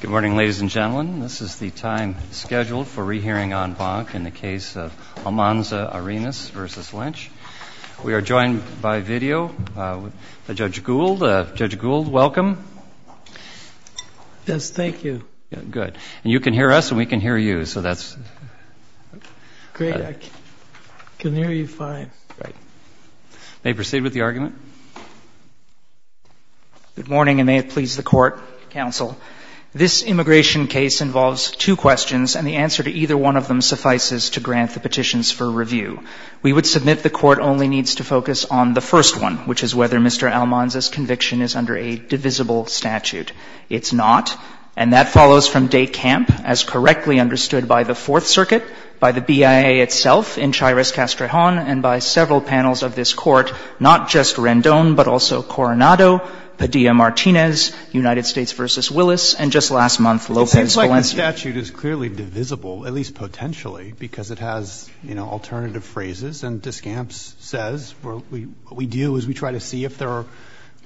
Good morning, ladies and gentlemen. This is the time scheduled for rehearing en banc in the case of Almanza-Arenas v. Lynch. We are joined by video by Judge Gould. Judge Gould, welcome. Yes, thank you. Good. And you can hear us and we can hear you, so that's... Great. I can hear you fine. May we proceed with the argument? Good morning, and may it please the Court, Counsel. This immigration case involves two questions, and the answer to either one of them suffices to grant the petitions for review. We would submit the Court only needs to focus on the first one, which is whether Mr. Almanza's conviction is under a divisible statute. It's not, and that follows from Des Campes, as correctly understood by the Fourth Circuit, by the BIA itself, in Chirez-Castrejon, and by several panels of this Court, not just Rendon, but also Coronado, Padilla-Martinez, United States v. Willis, and just last month Lopez-Valencia. It seems like the statute is clearly divisible, at least potentially, because it has, you know, alternative phrases. And Des Campes says what we do is we try to see if there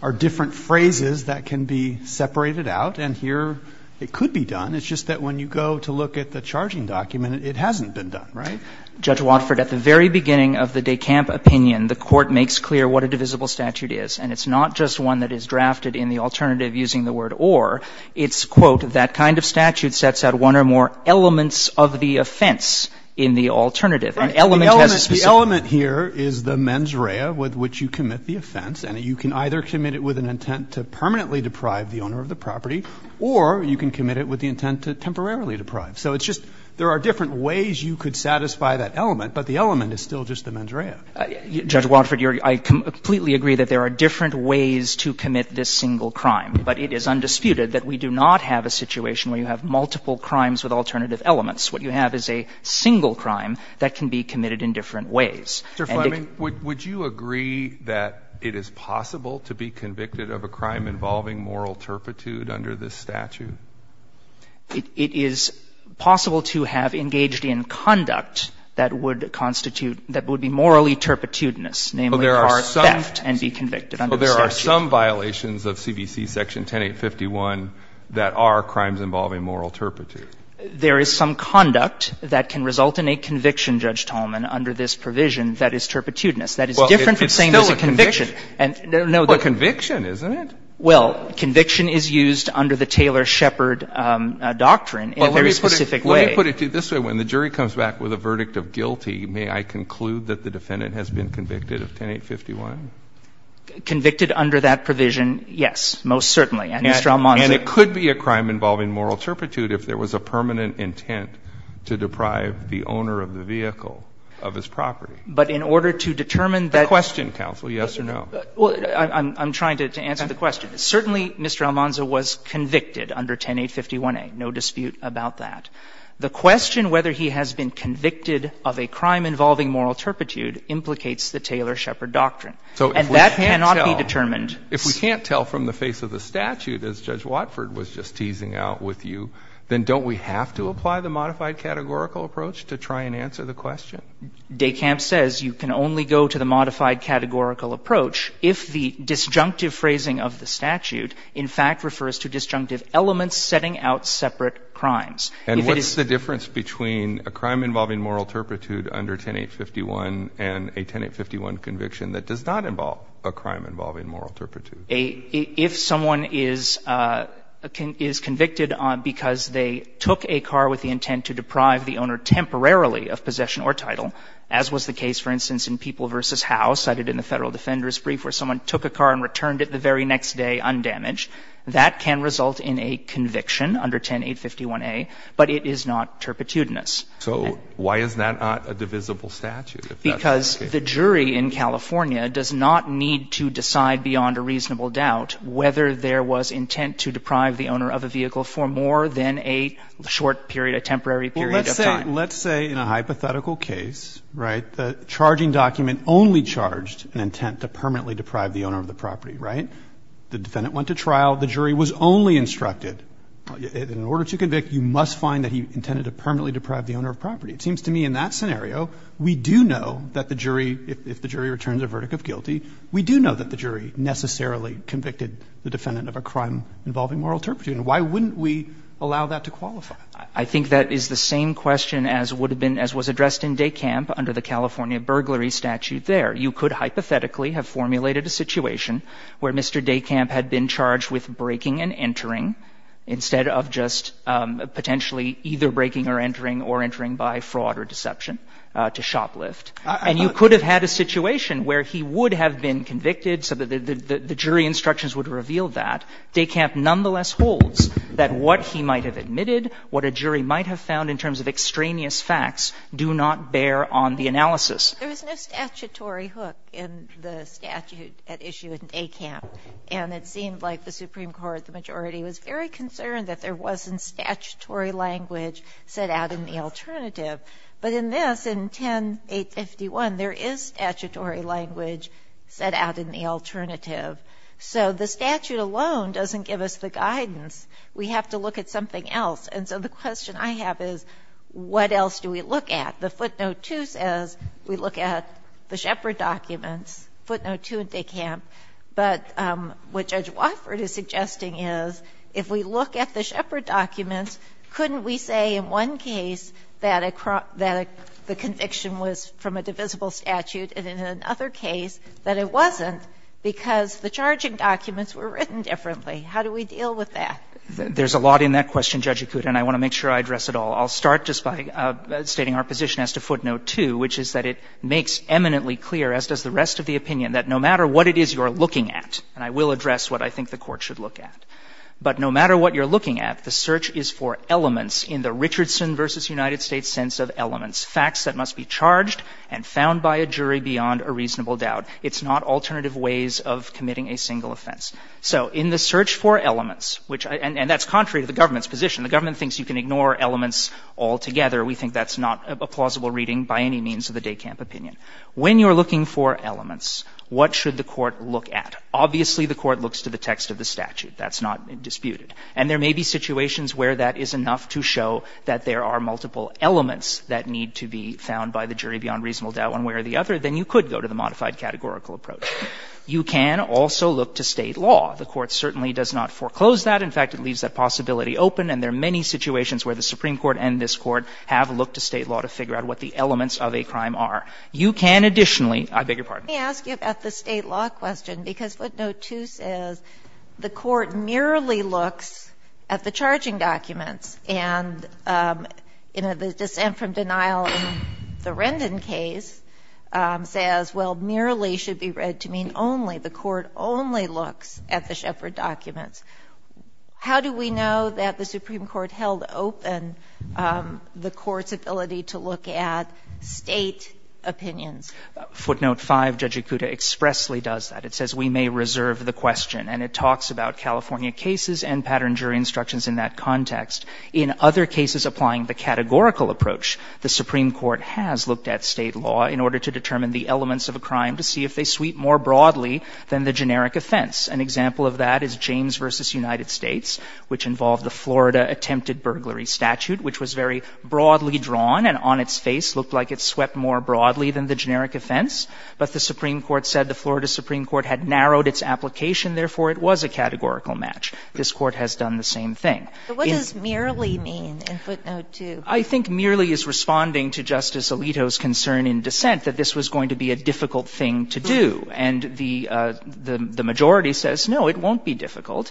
are different phrases that can be separated out. And here it could be done. It's just that when you go to look at the charging document, it hasn't been done, right? Judge Watford, at the very beginning of the Des Campes opinion, the Court makes clear what a divisible statute is, and it's not just one that is drafted in the alternative using the word or. It's, quote, that kind of statute sets out one or more elements of the offense in the alternative. And element has a specific. Breyer, the element here is the mens rea with which you commit the offense, and you can either commit it with an intent to permanently deprive the owner of the property or you can commit it with the intent to temporarily deprive. So it's just there are different ways you could satisfy that element, but the element is still just the mens rea. Judge Watford, I completely agree that there are different ways to commit this single crime, but it is undisputed that we do not have a situation where you have multiple crimes with alternative elements. What you have is a single crime that can be committed in different ways. Mr. Fleming, would you agree that it is possible to be convicted of a crime involving moral turpitude under this statute? It is possible to have engaged in conduct that would constitute, that would be morally turpitudinous, namely, cause theft and be convicted under the statute. But there are some violations of CBC Section 10851 that are crimes involving moral turpitude. There is some conduct that can result in a conviction, Judge Tolman, under this provision that is turpitudinous. That is different from saying there's a conviction. Well, it's still a conviction, isn't it? Well, conviction is used under the Taylor-Shepard doctrine in a very specific way. Well, let me put it to you this way. When the jury comes back with a verdict of guilty, may I conclude that the defendant has been convicted of 10851? Convicted under that provision, yes, most certainly. And Mr. Almonzo ---- And it could be a crime involving moral turpitude if there was a permanent intent to deprive the owner of the vehicle of his property. But in order to determine that ---- A question, counsel, yes or no. Well, I'm trying to answer the question. Certainly, Mr. Almonzo was convicted under 10851A. No dispute about that. The question whether he has been convicted of a crime involving moral turpitude implicates the Taylor-Shepard doctrine. So if we can't tell ---- And that cannot be determined. If we can't tell from the face of the statute, as Judge Watford was just teasing out with you, then don't we have to apply the modified categorical approach to try and answer the question? Dekamp says you can only go to the modified categorical approach if the disjunctive phrasing of the statute, in fact, refers to disjunctive elements setting out separate crimes. If it is ---- And what's the difference between a crime involving moral turpitude under 10851 and a 10851 conviction that does not involve a crime involving moral turpitude? If someone is convicted because they took a car with the intent to deprive the owner temporarily of possession or title, as was the case, for instance, in People v. Howe cited in the Federal Defender's Brief where someone took a car and returned it the very next day undamaged, that can result in a conviction under 10851A, but it is not turpitudinous. So why is that not a divisible statute? Because the jury in California does not need to decide beyond a reasonable doubt whether there was intent to deprive the owner of a vehicle for more than a short period, a temporary period of time. Well, let's say in a hypothetical case, right, the charging document only charged an intent to permanently deprive the owner of the property, right? The defendant went to trial. The jury was only instructed, in order to convict, you must find that he intended to permanently deprive the owner of property. It seems to me in that scenario, we do know that the jury, if the jury returns a verdict of guilty, we do know that the jury necessarily convicted the defendant of a crime involving moral turpitude. And why wouldn't we allow that to qualify? I think that is the same question as would have been, as was addressed in Dekamp under the California burglary statute there. You could hypothetically have formulated a situation where Mr. Dekamp had been charged with breaking and entering instead of just potentially either breaking or entering or entering by fraud or deception to shoplift. And you could have had a situation where he would have been convicted so that the jury instructions would reveal that. Dekamp nonetheless holds that what he might have admitted, what a jury might have found in terms of extraneous facts, do not bear on the analysis. There was no statutory hook in the statute at issue in Dekamp. And it seemed like the Supreme Court, the majority, was very concerned that there wasn't statutory language set out in the alternative. But in this, in 10-851, there is statutory language set out in the alternative. So the statute alone doesn't give us the guidance. We have to look at something else. And so the question I have is what else do we look at? The footnote 2 says we look at the Shepard documents, footnote 2 in Dekamp. But what Judge Wofford is suggesting is if we look at the Shepard documents, couldn't we say in one case that the conviction was from a divisible statute and in another case that it wasn't because the charging documents were written differently? How do we deal with that? There's a lot in that question, Judge Acuta, and I want to make sure I address it all. I'll start just by stating our position as to footnote 2, which is that it makes eminently clear, as does the rest of the opinion, that no matter what it is you're looking at, and I will address what I think the Court should look at, but no matter what you're looking at, the search is for elements in the Richardson v. United It's not alternative ways of committing a single offense. So in the search for elements, which – and that's contrary to the government's position. The government thinks you can ignore elements altogether. We think that's not a plausible reading by any means of the Dekamp opinion. When you're looking for elements, what should the Court look at? Obviously, the Court looks to the text of the statute. That's not disputed. And there may be situations where that is enough to show that there are multiple elements that need to be found by the jury beyond reasonable doubt, and where the other, then you could go to the modified categorical approach. You can also look to State law. The Court certainly does not foreclose that. In fact, it leaves that possibility open, and there are many situations where the Supreme Court and this Court have looked to State law to figure out what the elements of a crime are. You can additionally – I beg your pardon. Let me ask you about the State law question, because footnote 2 says the Court merely looks at the charging documents and, you know, the dissent from denial in the Rendon case says, well, merely should be read to mean only. The Court only looks at the Sheppard documents. How do we know that the Supreme Court held open the Court's ability to look at State opinions? Footnote 5, Judge Ikuta expressly does that. It says we may reserve the question, and it talks about California cases and pattern jury instructions in that context. In other cases applying the categorical approach, the Supreme Court has looked at State law in order to determine the elements of a crime to see if they sweep more broadly than the generic offense. An example of that is James v. United States, which involved the Florida attempted burglary statute, which was very broadly drawn and on its face looked like it swept more broadly than the generic offense. But the Supreme Court said the Florida Supreme Court had narrowed its application, therefore it was a categorical match. This Court has done the same thing. But what does merely mean in footnote 2? I think merely is responding to Justice Alito's concern in dissent that this was going to be a difficult thing to do. And the majority says, no, it won't be difficult.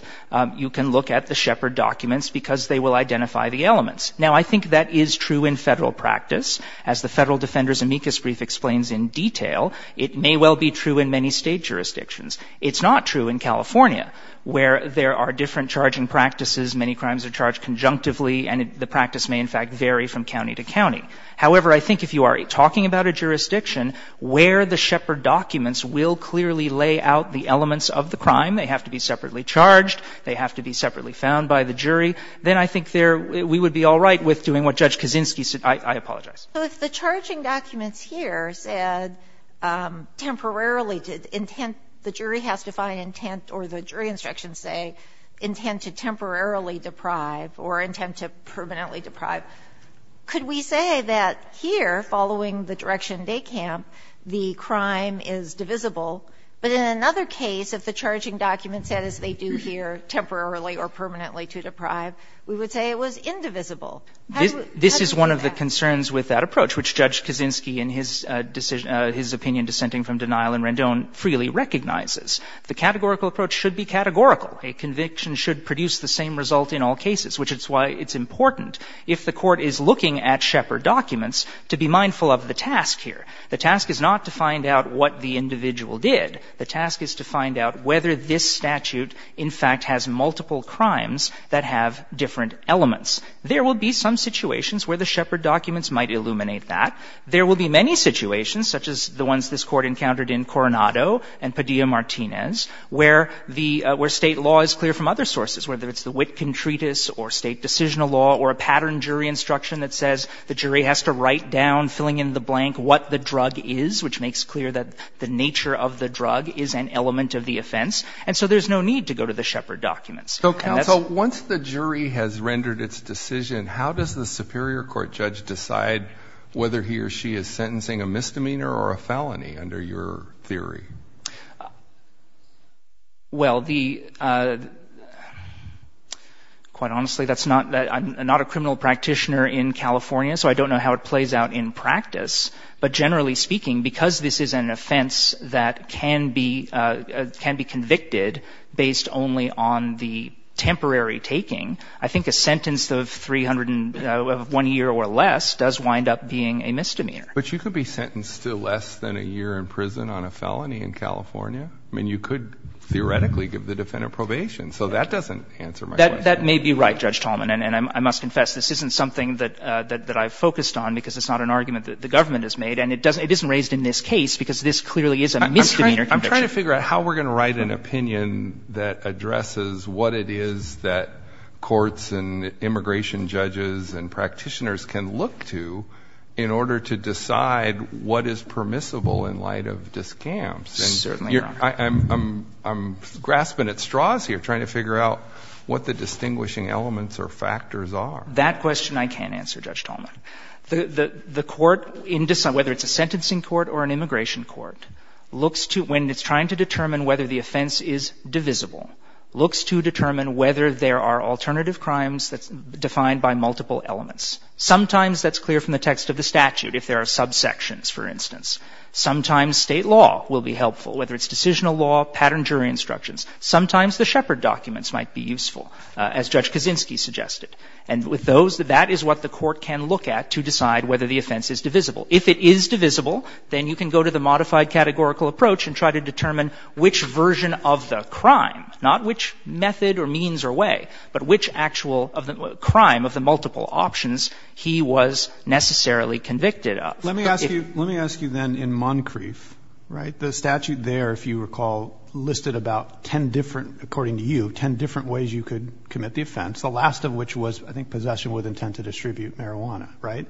You can look at the Sheppard documents because they will identify the elements. Now, I think that is true in Federal practice. As the Federal Defender's amicus brief explains in detail, it may well be true in many State jurisdictions. It's not true in California, where there are different charging practices, many crimes are charged conjunctively, and the practice may, in fact, vary from county to county. However, I think if you are talking about a jurisdiction where the Sheppard documents will clearly lay out the elements of the crime, they have to be separately charged, they have to be separately found by the jury, then I think there we would be all right with doing what Judge Kaczynski said. I apologize. So if the charging documents here said temporarily to intent, the jury has to find intent, or the jury instructions say intent to temporarily deprive or intent to permanently deprive, could we say that here, following the direction DECAMP, the crime is divisible, but in another case, if the charging document said, as they do here, temporarily or permanently to deprive, we would say it was indivisible? How does that work out? This is one of the concerns with that approach, which Judge Kaczynski in his decision his opinion dissenting from denial in Rendon freely recognizes. The categorical approach should be categorical. A conviction should produce the same result in all cases, which is why it's important if the Court is looking at Sheppard documents to be mindful of the task here. The task is not to find out what the individual did. The task is to find out whether this statute, in fact, has multiple crimes that have different elements. There will be some situations where the Sheppard documents might illuminate There will be many situations, such as the ones this Court encountered in Coronado and Padilla-Martinez, where the — where State law is clear from other sources, whether it's the Witkin Treatise or State decisional law or a pattern jury instruction that says the jury has to write down, filling in the blank, what the drug is, which makes clear that the nature of the drug is an element of the offense. And so there's no need to go to the Sheppard documents. And that's why the Sheppard documents. a misdemeanor or a felony under your theory? Well, the — quite honestly, that's not — I'm not a criminal practitioner in California, so I don't know how it plays out in practice. But generally speaking, because this is an offense that can be — can be convicted based only on the temporary taking, I think a sentence of 300 — of one year or less does wind up being a misdemeanor. But you could be sentenced to less than a year in prison on a felony in California. I mean, you could theoretically give the defendant probation. So that doesn't answer my question. That may be right, Judge Tallman. And I must confess, this isn't something that I've focused on because it's not an argument that the government has made. And it doesn't — it isn't raised in this case because this clearly is a misdemeanor conviction. I'm trying to figure out how we're going to write an opinion that addresses what it is that courts and immigration judges and practitioners can look to in order to decide what is permissible in light of discounts. Certainly, Your Honor. I'm — I'm grasping at straws here, trying to figure out what the distinguishing elements or factors are. That question I can't answer, Judge Tallman. The court, whether it's a sentencing court or an immigration court, looks to — when there are alternative crimes that's defined by multiple elements. Sometimes that's clear from the text of the statute, if there are subsections, for instance. Sometimes State law will be helpful, whether it's decisional law, pattern jury instructions. Sometimes the Shepard documents might be useful, as Judge Kaczynski suggested. And with those, that is what the court can look at to decide whether the offense is divisible. If it is divisible, then you can go to the modified categorical approach and try to determine which version of the crime, not which method or means or way, but which actual of the — crime of the multiple options he was necessarily convicted of. But if — Let me ask you — let me ask you then in Moncrief, right, the statute there, if you recall, listed about 10 different — according to you, 10 different ways you could commit the offense, the last of which was, I think, possession with intent to distribute marijuana, right?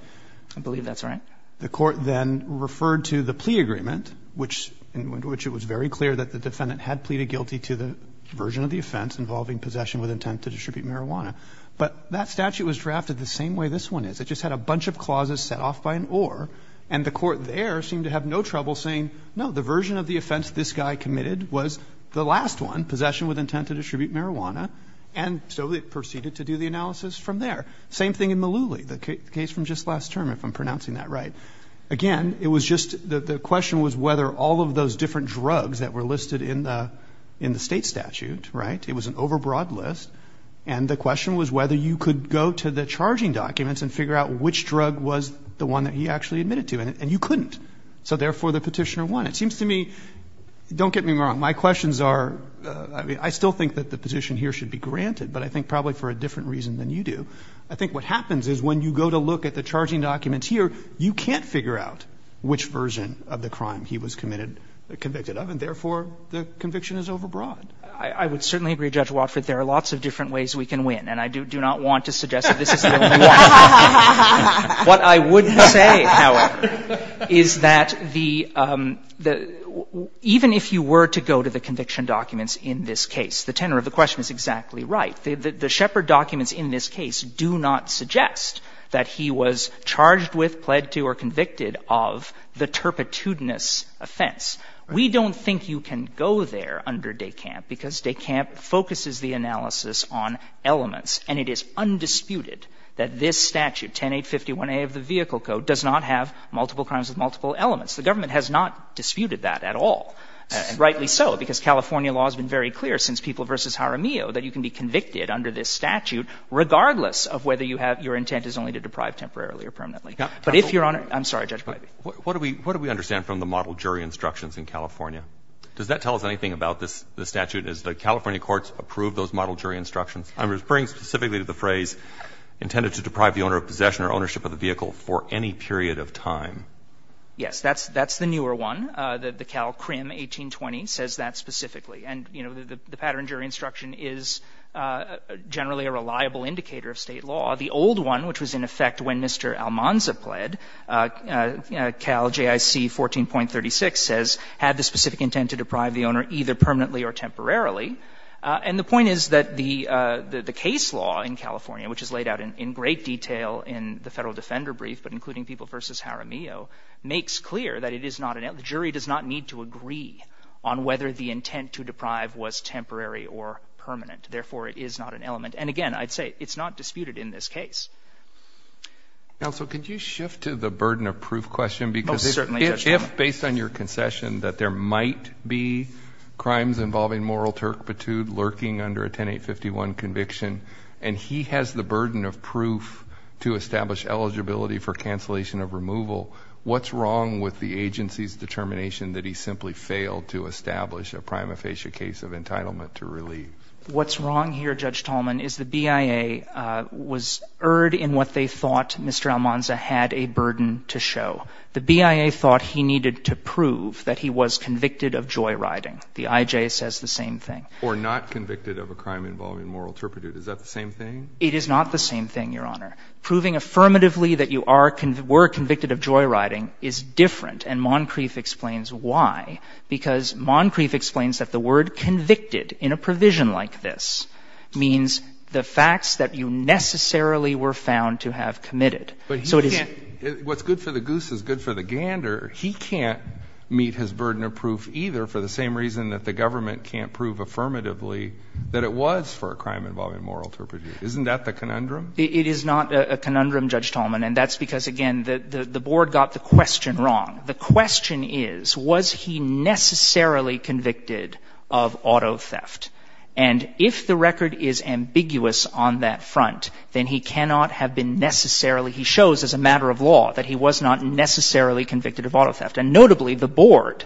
I believe that's right. The court then referred to the plea agreement, which — in which it was very clear that the defendant had pleaded guilty to the version of the offense involving possession with intent to distribute marijuana. But that statute was drafted the same way this one is. It just had a bunch of clauses set off by an or, and the court there seemed to have no trouble saying, no, the version of the offense this guy committed was the last one, possession with intent to distribute marijuana, and so they proceeded to do the analysis from there. Same thing in Malooly, the case from just last term, if I'm pronouncing that right. Again, it was just — the question was whether all of those different drugs that were listed in the — in the State statute, right, it was an overbroad list, and the question was whether you could go to the charging documents and figure out which drug was the one that he actually admitted to. And you couldn't. So therefore, the petitioner won. It seems to me — don't get me wrong, my questions are — I mean, I still think that the petition here should be granted, but I think probably for a different reason than you do, I think what happens is when you go to look at the charging documents here, you can't figure out which version of the crime he was committed — convicted of, and therefore, the conviction is overbroad. I would certainly agree, Judge Watford, there are lots of different ways we can win, and I do not want to suggest that this is the only one. What I would say, however, is that the — even if you were to go to the conviction documents in this case, the tenor of the question is exactly right. The Shepard documents in this case do not suggest that he was charged with, pled to, or convicted of the turpitudinous offense. We don't think you can go there under DeCamp because DeCamp focuses the analysis on elements, and it is undisputed that this statute, 10851A of the Vehicle Code, does not have multiple crimes with multiple elements. The government has not disputed that at all, and rightly so, because California law has been very clear since People v. Jaramillo that you can be convicted under this statute regardless of whether you have — your intent is only to deprive temporarily or permanently. But if you're on — I'm sorry, Judge Breyer. What do we — what do we understand from the model jury instructions in California? Does that tell us anything about this statute? Does the California courts approve those model jury instructions? I'm referring specifically to the phrase, intended to deprive the owner of possession or ownership of the vehicle for any period of time. Yes. That's — that's the newer one. The Cal CRIM 1820 says that specifically. And, you know, the pattern jury instruction is generally a reliable indicator of State law. The old one, which was in effect when Mr. Almanza pled, Cal JIC 14.36 says, had the specific intent to deprive the owner either permanently or temporarily. And the point is that the case law in California, which is laid out in great detail in the Federal Defender Brief, but including People v. Jaramillo, makes clear that it is not an — the jury does not need to agree on whether the intent to deprive was temporary or permanent. Therefore, it is not an element. And, again, I'd say it's not disputed in this case. Counsel, could you shift to the burden of proof question? Because if — Oh, certainly, Judge Breyer. If, based on your concession, that there might be crimes involving moral turpitude lurking under a 10-851 conviction, and he has the burden of proof to establish eligibility for cancellation of removal, what's wrong with the agency's determination that he simply failed to establish a prima facie case of entitlement to relieve? What's wrong here, Judge Tallman, is the BIA was erred in what they thought Mr. Almanza had a burden to show. The BIA thought he needed to prove that he was convicted of joyriding. The IJ says the same thing. Or not convicted of a crime involving moral turpitude. Is that the same thing? It is not the same thing, Your Honor. Proving affirmatively that you are — were convicted of joyriding is different, and Moncrief explains why. Because Moncrief explains that the word convicted in a provision like this means the facts that you necessarily were found to have committed. So it is — But he can't — what's good for the goose is good for the gander. He can't meet his burden of proof either for the same reason that the government can't prove affirmatively that it was for a crime involving moral turpitude. Isn't that the conundrum? It is not a conundrum, Judge Tallman, and that's because, again, the Board got the question wrong. The question is, was he necessarily convicted of auto theft? And if the record is ambiguous on that front, then he cannot have been necessarily — he shows as a matter of law that he was not necessarily convicted of auto theft. And notably, the Board,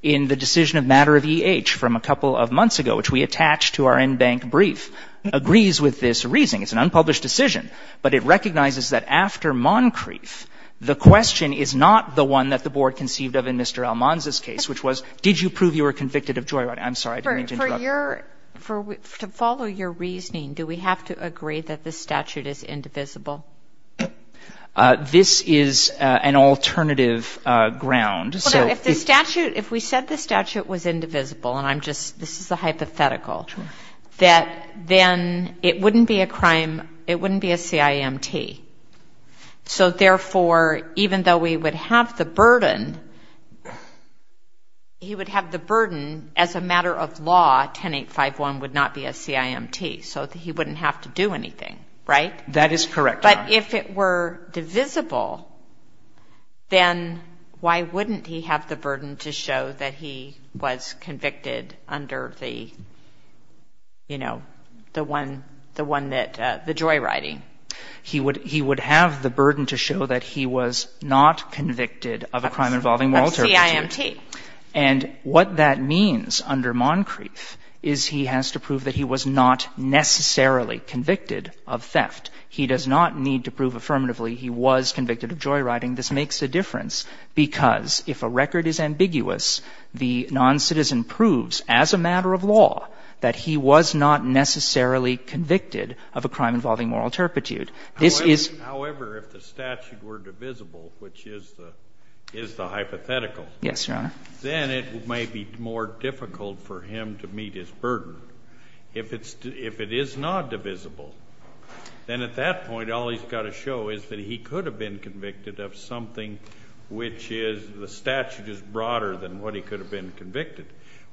in the decision of matter of E.H. from a couple of months ago, which we attach to our in-bank brief, agrees with this reasoning. It's an unpublished decision, but it recognizes that after Moncrief, the question is not the one that the Board conceived of in Mr. Almanza's case, which was, did you prove you were convicted of joyride? I'm sorry, I didn't mean to interrupt. For your — to follow your reasoning, do we have to agree that this statute is indivisible? This is an alternative ground. So if the statute — if we said the statute was indivisible, and I'm just — this is a hypothetical, that then it wouldn't be a crime — it wouldn't be a CIMT. So, therefore, even though we would have the burden, he would have the burden, as a matter of law, 10851 would not be a CIMT. So he wouldn't have to do anything, right? That is correct, Your Honor. But if it were divisible, then why wouldn't he have the burden to show that he was convicted under the, you know, the one — the one that — the joyriding? He would — he would have the burden to show that he was not convicted of a crime involving moral territory. Of CIMT. And what that means under Moncrief is he has to prove that he was not necessarily convicted of theft. He does not need to prove affirmatively he was convicted of joyriding. This makes a difference, because if a record is ambiguous, the noncitizen proves, as a matter of law, that he was not necessarily convicted of a crime involving moral turpitude. This is — However, if the statute were divisible, which is the hypothetical — Yes, Your Honor. Then it may be more difficult for him to meet his burden. If it's — if it is not divisible, then at that point all he's got to show is that he could have been convicted of something which is — the statute is broader than what he could have been convicted.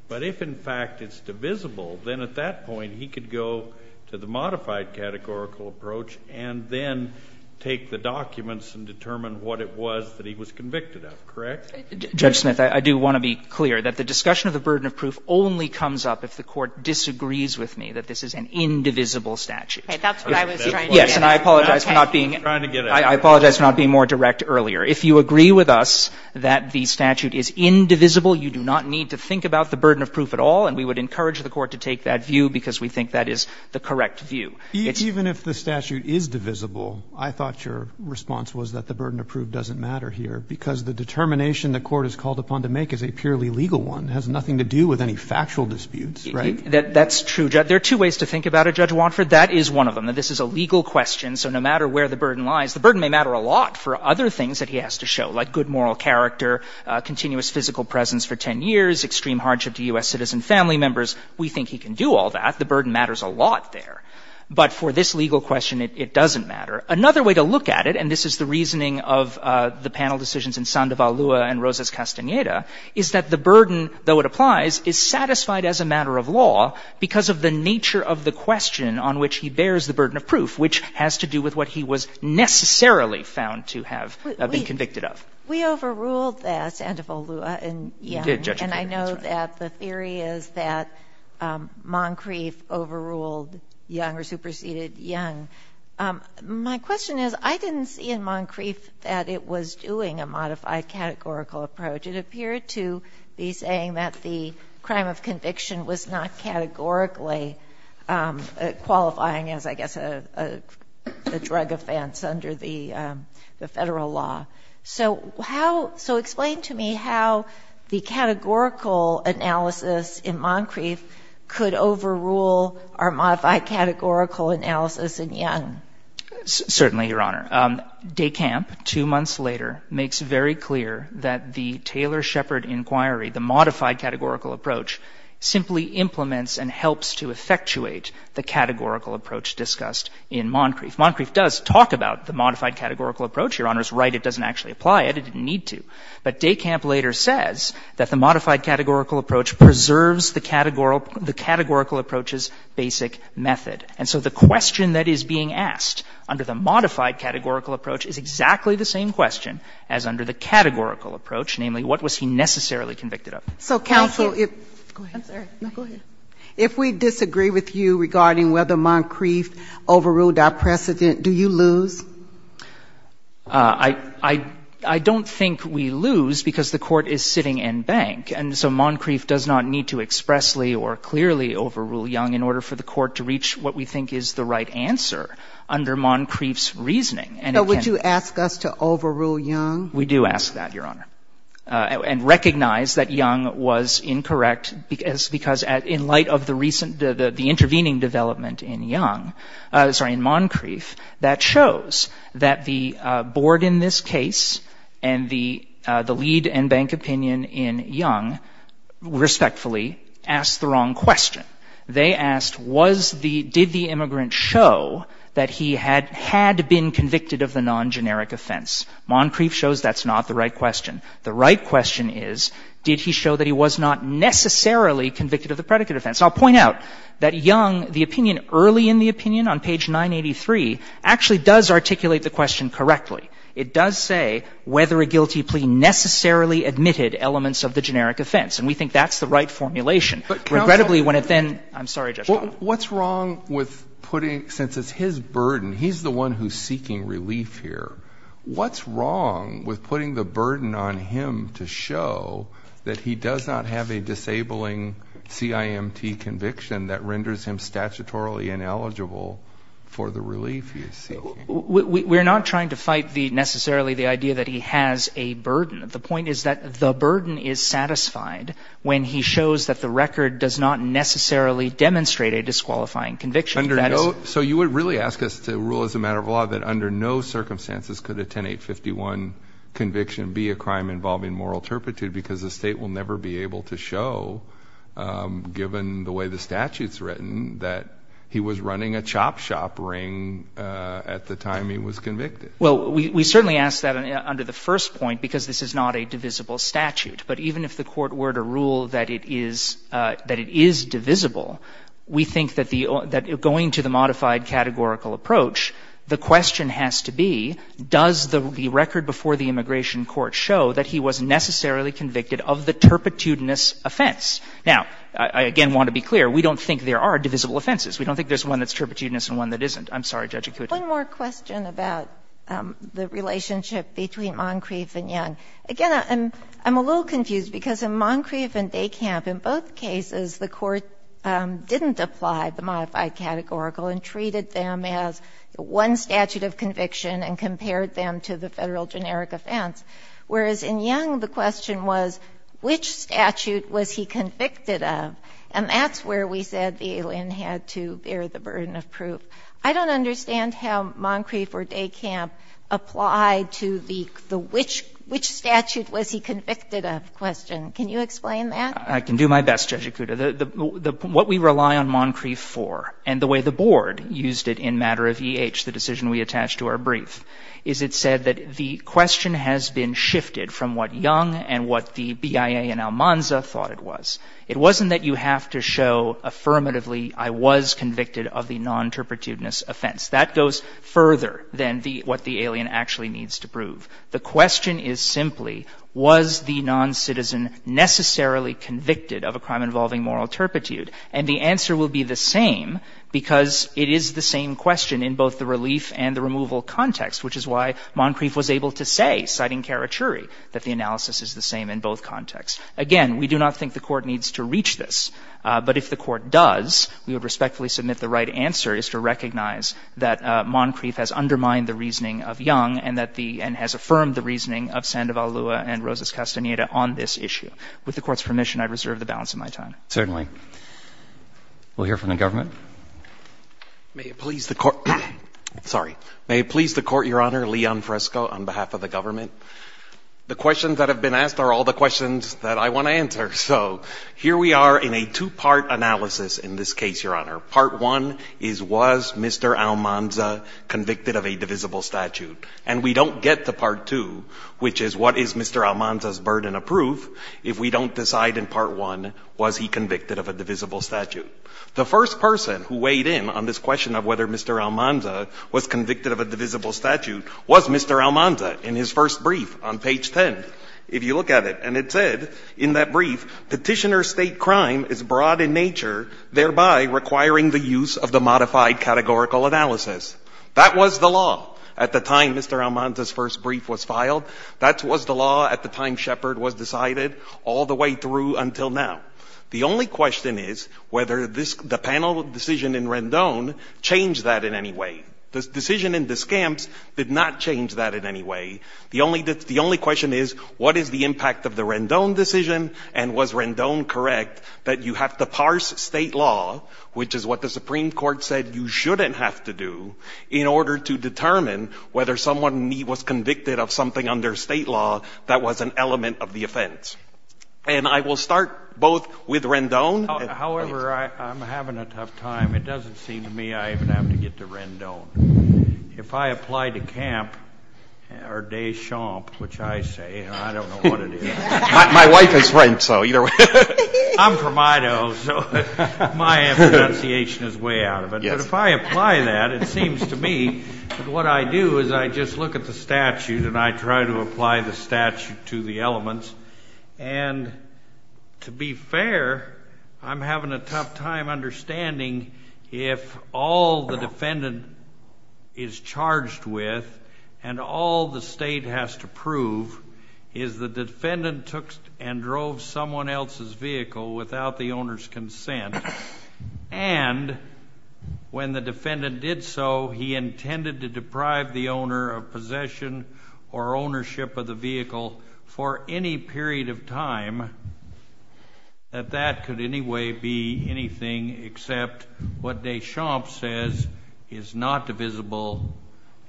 But if, in fact, it's divisible, then at that point he could go to the modified categorical approach and then take the documents and determine what it was that he was convicted of. Correct? Judge Smith, I do want to be clear that the discussion of the burden of proof only comes up if the Court disagrees with me that this is an indivisible statute. That's what I was trying to get at. Yes, and I apologize for not being — I was trying to get at it. I apologize for not being more direct earlier. If you agree with us that the statute is indivisible, you do not need to think about the burden of proof at all, and we would encourage the Court to take that view because we think that is the correct view. Even if the statute is divisible, I thought your response was that the burden of proof doesn't matter here, because the determination the Court has called upon to make is a purely legal one. It has nothing to do with any factual disputes, right? That's true. There are two ways to think about it, Judge Wanford. That is one of them, that this is a legal question. So no matter where the burden lies, the burden may matter a lot for other things that he has to show, like good moral character, continuous physical presence for 10 years, extreme hardship to U.S. citizen family members. We think he can do all that. The burden matters a lot there. But for this legal question, it doesn't matter. Another way to look at it, and this is the reasoning of the panel decisions in Sandoval Lua and Rosas Castaneda, is that the burden, though it applies, is satisfied as a matter of law because of the nature of the question on which he bears the burden of proof, which has to do with what he was necessarily found to have been convicted of. We overruled that, Sandoval Lua, in Young. You did, Judge Kagan. That's right. And I know that the theory is that Moncrief overruled Young or superseded Young. My question is, I didn't see in Moncrief that it was doing a modified categorical approach. It appeared to be saying that the crime of conviction was not categorically qualifying as, I guess, a drug offense under the Federal law. So how — so explain to me how the categorical analysis in Moncrief could overrule our modified categorical analysis in Young. Certainly, Your Honor. DECAMP, two months later, makes very clear that the Taylor-Shepard inquiry, the categorical approach discussed in Moncrief. Moncrief does talk about the modified categorical approach. Your Honor is right. It doesn't actually apply. It didn't need to. But DECAMP later says that the modified categorical approach preserves the categorical approach's basic method. And so the question that is being asked under the modified categorical approach is exactly the same question as under the categorical approach. Namely, what was he necessarily convicted of? So counsel, if — Thank you. Go ahead. I'm sorry. No, go ahead. If we disagree with you regarding whether Moncrief overruled our precedent, do you lose? I don't think we lose because the Court is sitting in bank. And so Moncrief does not need to expressly or clearly overrule Young in order for the Court to reach what we think is the right answer under Moncrief's reasoning. So would you ask us to overrule Young? We do ask that, Your Honor. And recognize that Young was incorrect because in light of the recent — the intervening development in Young — sorry, in Moncrief, that shows that the board in this case and the lead and bank opinion in Young respectfully asked the wrong question. They asked, was the — did the immigrant show that he had been convicted of the non-generic offense? Moncrief shows that's not the right question. The right question is, did he show that he was not necessarily convicted of the predicate offense? And I'll point out that Young, the opinion early in the opinion on page 983, actually does articulate the question correctly. It does say whether a guilty plea necessarily admitted elements of the generic offense. And we think that's the right formulation. Regrettably, when it then — I'm sorry, Justice Kagan. What's wrong with putting — since it's his burden, he's the one who's seeking relief here. What's wrong with putting the burden on him to show that he does not have a disabling CIMT conviction that renders him statutorily ineligible for the relief he is seeking? We're not trying to fight the — necessarily the idea that he has a burden. The point is that the burden is satisfied when he shows that the record does not necessarily demonstrate a disqualifying conviction. Under no — so you would really ask us to rule as a matter of law that under no circumstances could a 10851 conviction be a crime involving moral turpitude because the State will never be able to show, given the way the statute's written, that he was running a chop shop ring at the time he was convicted. Well, we certainly ask that under the first point because this is not a divisible statute. But even if the Court were to rule that it is — that it is divisible, we think that the — that going to the modified categorical approach, the question has to be, does the record before the immigration court show that he was necessarily convicted of the turpitudinous offense? Now, I again want to be clear. We don't think there are divisible offenses. We don't think there's one that's turpitudinous and one that isn't. I'm sorry, Judge Akuta. One more question about the relationship between Moncrief and Young. Again, I'm — I'm a little confused because in Moncrief and Dekamp, in both cases, the Court didn't apply the modified categorical and treated them as one statute of conviction and compared them to the Federal generic offense. Whereas in Young, the question was, which statute was he convicted of? And that's where we said the alien had to bear the burden of proof. I don't understand how Moncrief or Dekamp applied to the — the which — which statute was he convicted of question. Can you explain that? I can do my best, Judge Akuta. The — what we rely on Moncrief for and the way the Board used it in matter of EH, the decision we attached to our brief, is it said that the question has been shifted from what Young and what the BIA in Almanza thought it was. It wasn't that you have to show affirmatively, I was convicted of the non-turpitudinous offense. That goes further than the — what the alien actually needs to prove. The question is simply, was the non-citizen necessarily convicted of a crime involving moral turpitude? And the answer will be the same because it is the same question in both the relief and the removal context, which is why Moncrief was able to say, citing Karachuri, that the analysis is the same in both contexts. Again, we do not think the Court needs to reach this, but if the Court does, we would respectfully submit the right answer is to recognize that Moncrief has undermined the reasoning of Young and that the — and has affirmed the reasoning of Sandoval-Lua and Rosas-Castaneda on this issue. With the Court's permission, I reserve the balance of my time. Certainly. We'll hear from the government. May it please the Court — sorry. May it please the Court, Your Honor, Leon Fresco on behalf of the government. The questions that have been asked are all the questions that I want to answer. So here we are in a two-part analysis in this case, Your Honor. Part 1 is, was Mr. Almanza convicted of a divisible statute? And we don't get to Part 2, which is, what is Mr. Almanza's burden of proof, if we don't decide in Part 1, was he convicted of a divisible statute? The first person who weighed in on this question of whether Mr. Almanza was convicted of a divisible statute was Mr. Almanza in his first brief on page 10, if you look at it. And it said in that brief, Petitioner's State crime is broad in nature, thereby requiring the use of the modified categorical analysis. That was the law at the time Mr. Almanza's first brief was filed. That was the law at the time Shepard was decided, all the way through until now. The only question is whether the panel decision in Rendon changed that in any way. The decision in Descamps did not change that in any way. The only question is, what is the impact of the Rendon decision, and was Rendon correct, that you have to parse State law, which is what the Supreme Court said you shouldn't have to do, in order to determine whether someone was convicted of something under State law that was an element of the offense? And I will start both with Rendon. However, I'm having a tough time. It doesn't seem to me I even have to get to Rendon. If I apply to Camp or Deschamps, which I say, I don't know what it is. My wife is French, so either way. I'm from Idaho, so my pronunciation is way out of it. But if I apply that, it seems to me that what I do is I just look at the statute and I try to apply the statute to the elements. And to be fair, I'm having a tough time understanding if all the defendant is charged with and all the State has to prove is the defendant took and drove someone else's vehicle without the owner's consent. And when the defendant did so, he intended to deprive the owner of possession or ownership of the vehicle for any period of time, that that could anyway be anything except what Deschamps says is not divisible,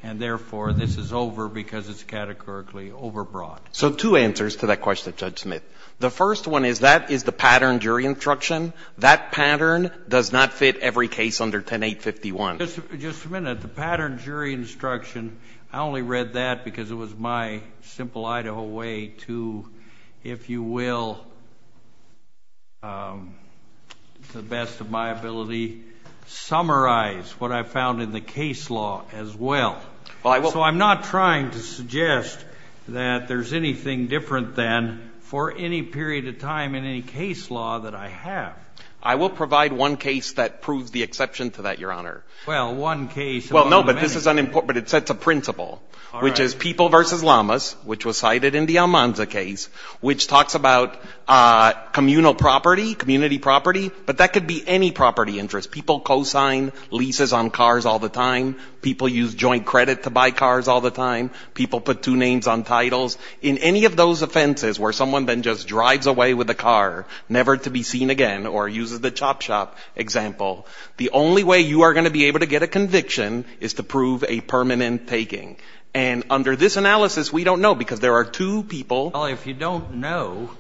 and therefore this is over because it's categorically overbroad. So two answers to that question, Judge Smith. The first one is that is the pattern jury instruction. That pattern does not fit every case under 10-851. Just a minute. The pattern jury instruction, I only read that because it was my simple Idaho way to, if you will, to the best of my ability, summarize what I found in the case law as well. So I'm not trying to suggest that there's anything different than for any period of time in any case law that I have. I will provide one case that proves the exception to that, Your Honor. Well, one case. Well, no, but this is unimportant, but it sets a principle, which is People v. Llamas, which was cited in the Almanza case, which talks about communal property, community property, but that could be any property interest. People co-sign leases on cars all the time. People use joint credit to buy cars all the time. People put two names on titles. In any of those offenses where someone then just drives away with a car, never to be seen again, or uses the chop shop example, the only way you are going to be able to get a conviction is to prove a permanent taking. And under this analysis, we don't know, because there are two people. Well, if you don't know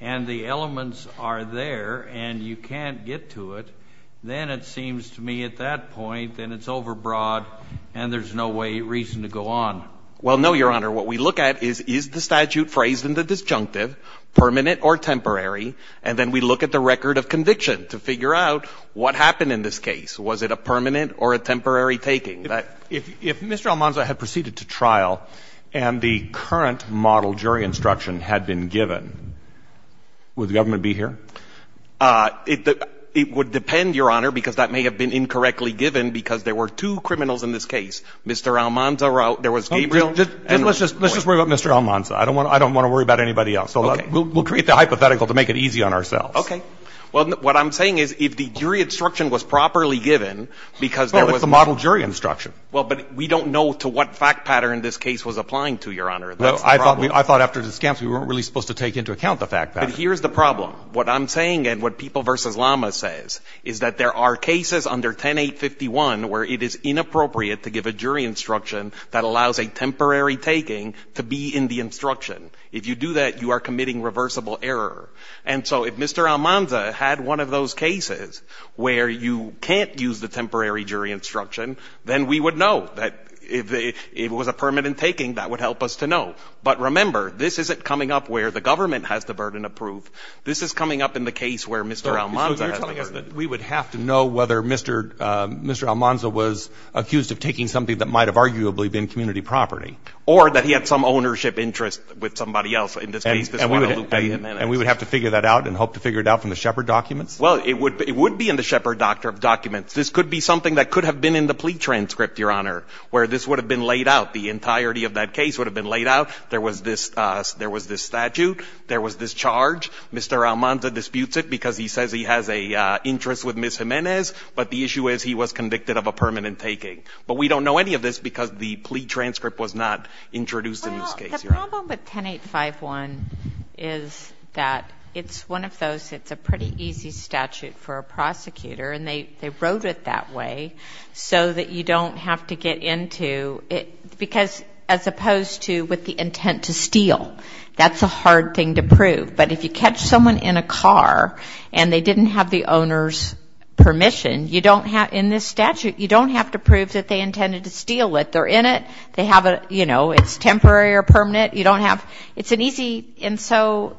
and the elements are there and you can't get to it, then it seems to me at that point that it's overbroad and there's no way, reason to go on. Well, no, Your Honor. What we look at is, is the statute phrased in the disjunctive permanent or temporary, and then we look at the record of conviction to figure out what happened in this case. Was it a permanent or a temporary taking? If Mr. Almanza had proceeded to trial and the current model jury instruction had been given, would the government be here? It would depend, Your Honor, because that may have been incorrectly given because there were two criminals in this case. Mr. Almanza, there was Gabriel. And let's just worry about Mr. Almanza. I don't want to worry about anybody else. Okay. We'll create the hypothetical to make it easy on ourselves. Okay. Well, what I'm saying is if the jury instruction was properly given because there was no ---- That's the model jury instruction. Well, but we don't know to what fact pattern this case was applying to, Your Honor. That's the problem. I thought after the scams we weren't really supposed to take into account the fact pattern. But here's the problem. What I'm saying and what People v. Lama says is that there are cases under 10-851 where it is inappropriate to give a jury instruction that allows a temporary taking to be in the instruction. If you do that, you are committing reversible error. And so if Mr. Almanza had one of those cases where you can't use the temporary jury instruction, then we would know that if it was a permanent taking, that would help us to know. But remember, this isn't coming up where the government has the burden approved. This is coming up in the case where Mr. Almanza has the burden. So you're telling us that we would have to know whether Mr. Almanza was accused of taking something that might have arguably been community property. Or that he had some ownership interest with somebody else. And we would have to figure that out and hope to figure it out from the Shepard documents? Well, it would be in the Shepard documents. This could be something that could have been in the plea transcript, Your Honor, where this would have been laid out. The entirety of that case would have been laid out. There was this statute. There was this charge. Mr. Almanza disputes it because he says he has an interest with Ms. Jimenez. But the issue is he was convicted of a permanent taking. But we don't know any of this because the plea transcript was not introduced in this case, Your Honor. The problem with 10851 is that it's one of those that's a pretty easy statute for a prosecutor. And they wrote it that way so that you don't have to get into it. Because as opposed to with the intent to steal, that's a hard thing to prove. But if you catch someone in a car and they didn't have the owner's permission, you don't have in this statute, you don't have to prove that they intended to steal it. They're in it. They have a, you know, it's temporary or permanent. You don't have, it's an easy, and so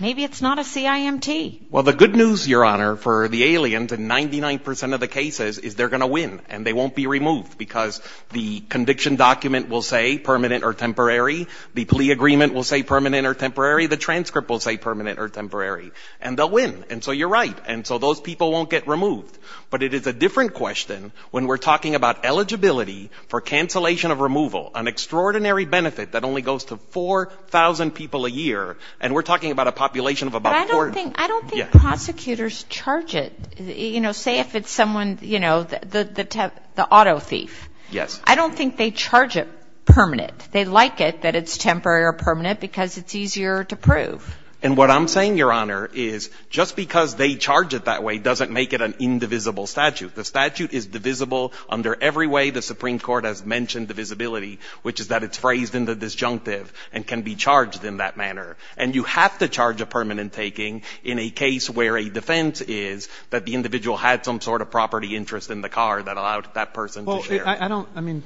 maybe it's not a CIMT. Well, the good news, Your Honor, for the aliens in 99 percent of the cases is they're going to win. And they won't be removed because the conviction document will say permanent or temporary. The plea agreement will say permanent or temporary. The transcript will say permanent or temporary. And they'll win. And so you're right. And so those people won't get removed. But it is a different question when we're talking about eligibility for cancellation of removal, an extraordinary benefit that only goes to 4,000 people a year. And we're talking about a population of about 40. But I don't think prosecutors charge it. You know, say if it's someone, you know, the auto thief. Yes. I don't think they charge it permanent. They like it that it's temporary or permanent because it's easier to prove. And what I'm saying, Your Honor, is just because they charge it that way doesn't make it an indivisible statute. The statute is divisible under every way the Supreme Court has mentioned divisibility, which is that it's phrased in the disjunctive and can be charged in that manner. And you have to charge a permanent taking in a case where a defense is that the individual had some sort of property interest in the car that allowed that person to share. I mean,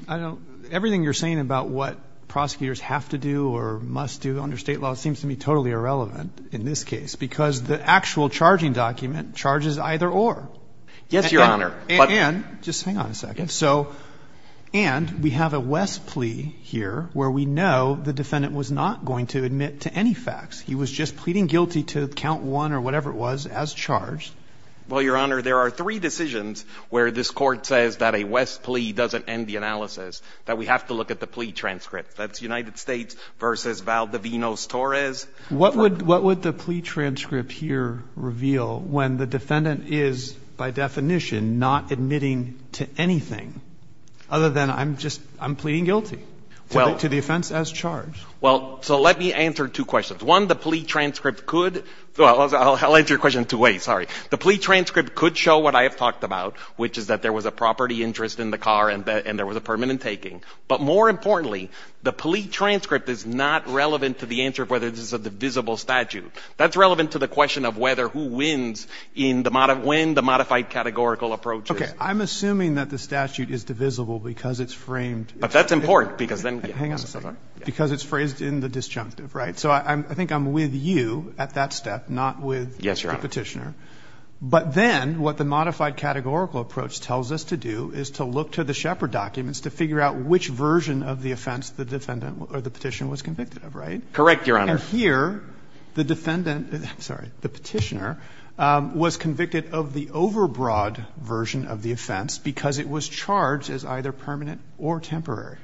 everything you're saying about what prosecutors have to do or must do under state law seems to me totally irrelevant in this case because the actual charging document charges either or. Yes, Your Honor. And just hang on a second. So and we have a West plea here where we know the defendant was not going to admit to any facts. He was just pleading guilty to count one or whatever it was as charged. Well, Your Honor, there are three decisions where this court says that a West plea doesn't end the analysis, that we have to look at the plea transcript. That's United States v. Valdovinos-Torres. What would the plea transcript here reveal when the defendant is by definition not admitting to anything other than I'm just I'm pleading guilty to the offense as charged? Well, so let me answer two questions. One, the plea transcript could well, I'll answer your question two ways, sorry. The plea transcript could show what I have talked about, which is that there was a property interest in the car and there was a permanent taking. But more importantly, the plea transcript is not relevant to the answer of whether this is a divisible statute. That's relevant to the question of whether who wins in the when the modified categorical approach is. Okay. I'm assuming that the statute is divisible because it's framed. But that's important because then. Hang on a second. Because it's phrased in the disjunctive, right? So I think I'm with you at that step, not with the petitioner. Yes, Your Honor. But then what the modified categorical approach tells us to do is to look to the Shepard documents to figure out which version of the offense the defendant or the petitioner was convicted of, right? Correct, Your Honor. And here the defendant, I'm sorry, the petitioner was convicted of the overbroad version of the offense because it was charged as either permanent or temporary.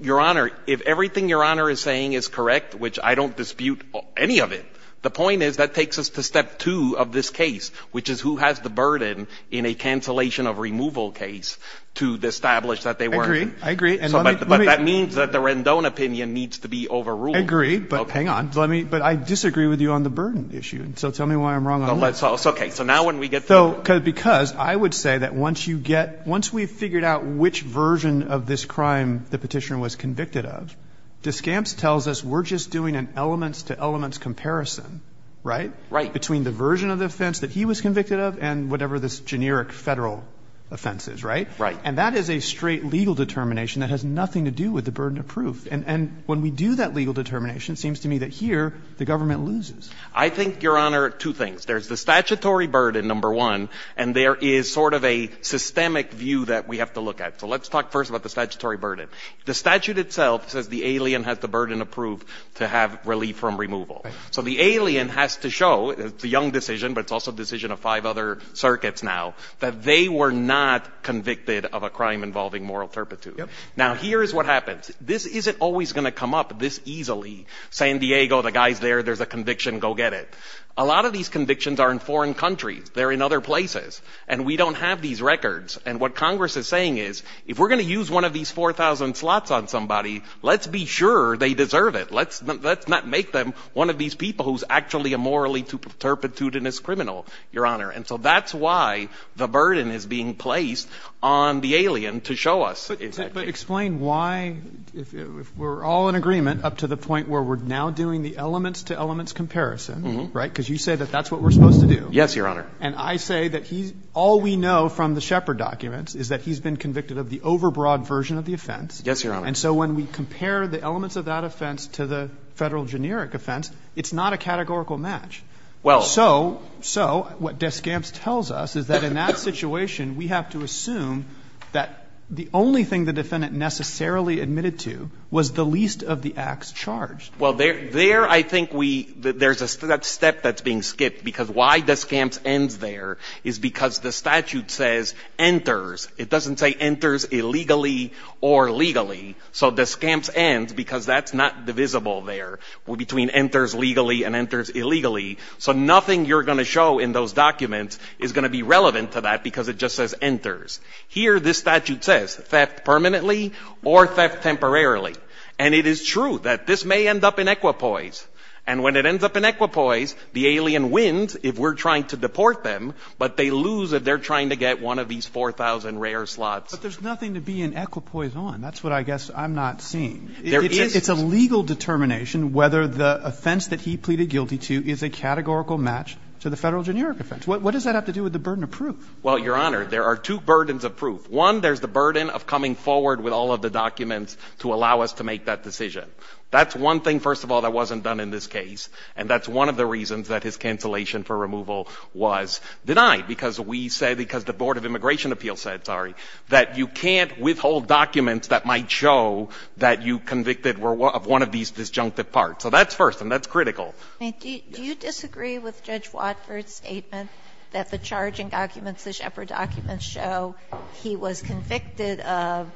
Your Honor, if everything Your Honor is saying is correct, which I don't dispute any of it. The point is that takes us to step two of this case, which is who has the burden in a cancellation of removal case to establish that they were. I agree. I agree. But that means that the Rendon opinion needs to be overruled. I agree. But hang on. But I disagree with you on the burden issue. So tell me why I'm wrong. Okay. So because I would say that once you get, once we've figured out which version of this crime the petitioner was convicted of, Descamps tells us we're just doing an elements to elements comparison, right? Right. Between the version of the offense that he was convicted of and whatever this generic Federal offense is, right? Right. And that is a straight legal determination that has nothing to do with the burden of proof. And when we do that legal determination, it seems to me that here the government loses. I think, Your Honor, two things. There's the statutory burden, number one, and there is sort of a systemic view that we have to look at. So let's talk first about the statutory burden. The statute itself says the alien has the burden of proof to have relief from removal. Right. So the alien has to show, it's a young decision, but it's also a decision of five other circuits now, that they were not convicted of a crime involving moral turpitude. Yep. Now, here is what happens. This isn't always going to come up this easily. San Diego, the guy's there, there's a conviction, go get it. A lot of these convictions are in foreign countries. They're in other places. And we don't have these records. And what Congress is saying is if we're going to use one of these 4,000 slots on somebody, let's be sure they deserve it. Let's not make them one of these people who's actually a morally turpitudinous criminal, Your Honor. And so that's why the burden is being placed on the alien to show us. But explain why, if we're all in agreement up to the point where we're now doing the elements-to-elements comparison, right, because you say that that's what we're supposed to do. Yes, Your Honor. And I say that all we know from the Shepard documents is that he's been convicted of the overbroad version of the offense. Yes, Your Honor. And so when we compare the elements of that offense to the Federal generic offense, it's not a categorical match. Well. So what Descamps tells us is that in that situation, we have to assume that the only thing the defendant necessarily admitted to was the least of the acts charged. Well, there I think we — there's a step that's being skipped, because why Descamps ends there is because the statute says enters. It doesn't say enters illegally or legally. So Descamps ends because that's not divisible there between enters legally and enters illegally. So nothing you're going to show in those documents is going to be relevant to that because it just says enters. Here, this statute says theft permanently or theft temporarily. And it is true that this may end up in equipoise. And when it ends up in equipoise, the alien wins if we're trying to deport them, but they lose if they're trying to get one of these 4,000 rare slots. But there's nothing to be in equipoise on. That's what I guess I'm not seeing. There is. It's a legal determination whether the offense that he pleaded guilty to is a categorical match to the Federal generic offense. What does that have to do with the burden of proof? Well, Your Honor, there are two burdens of proof. One, there's the burden of coming forward with all of the documents to allow us to make that decision. That's one thing, first of all, that wasn't done in this case. And that's one of the reasons that his cancellation for removal was denied, because we say, because the Board of Immigration Appeals said, sorry, that you can't withhold documents that might show that you convicted of one of these disjunctive parts. So that's first, and that's critical. Sotomayor, do you disagree with Judge Watford's statement that the charging documents, the Shepard documents show he was convicted of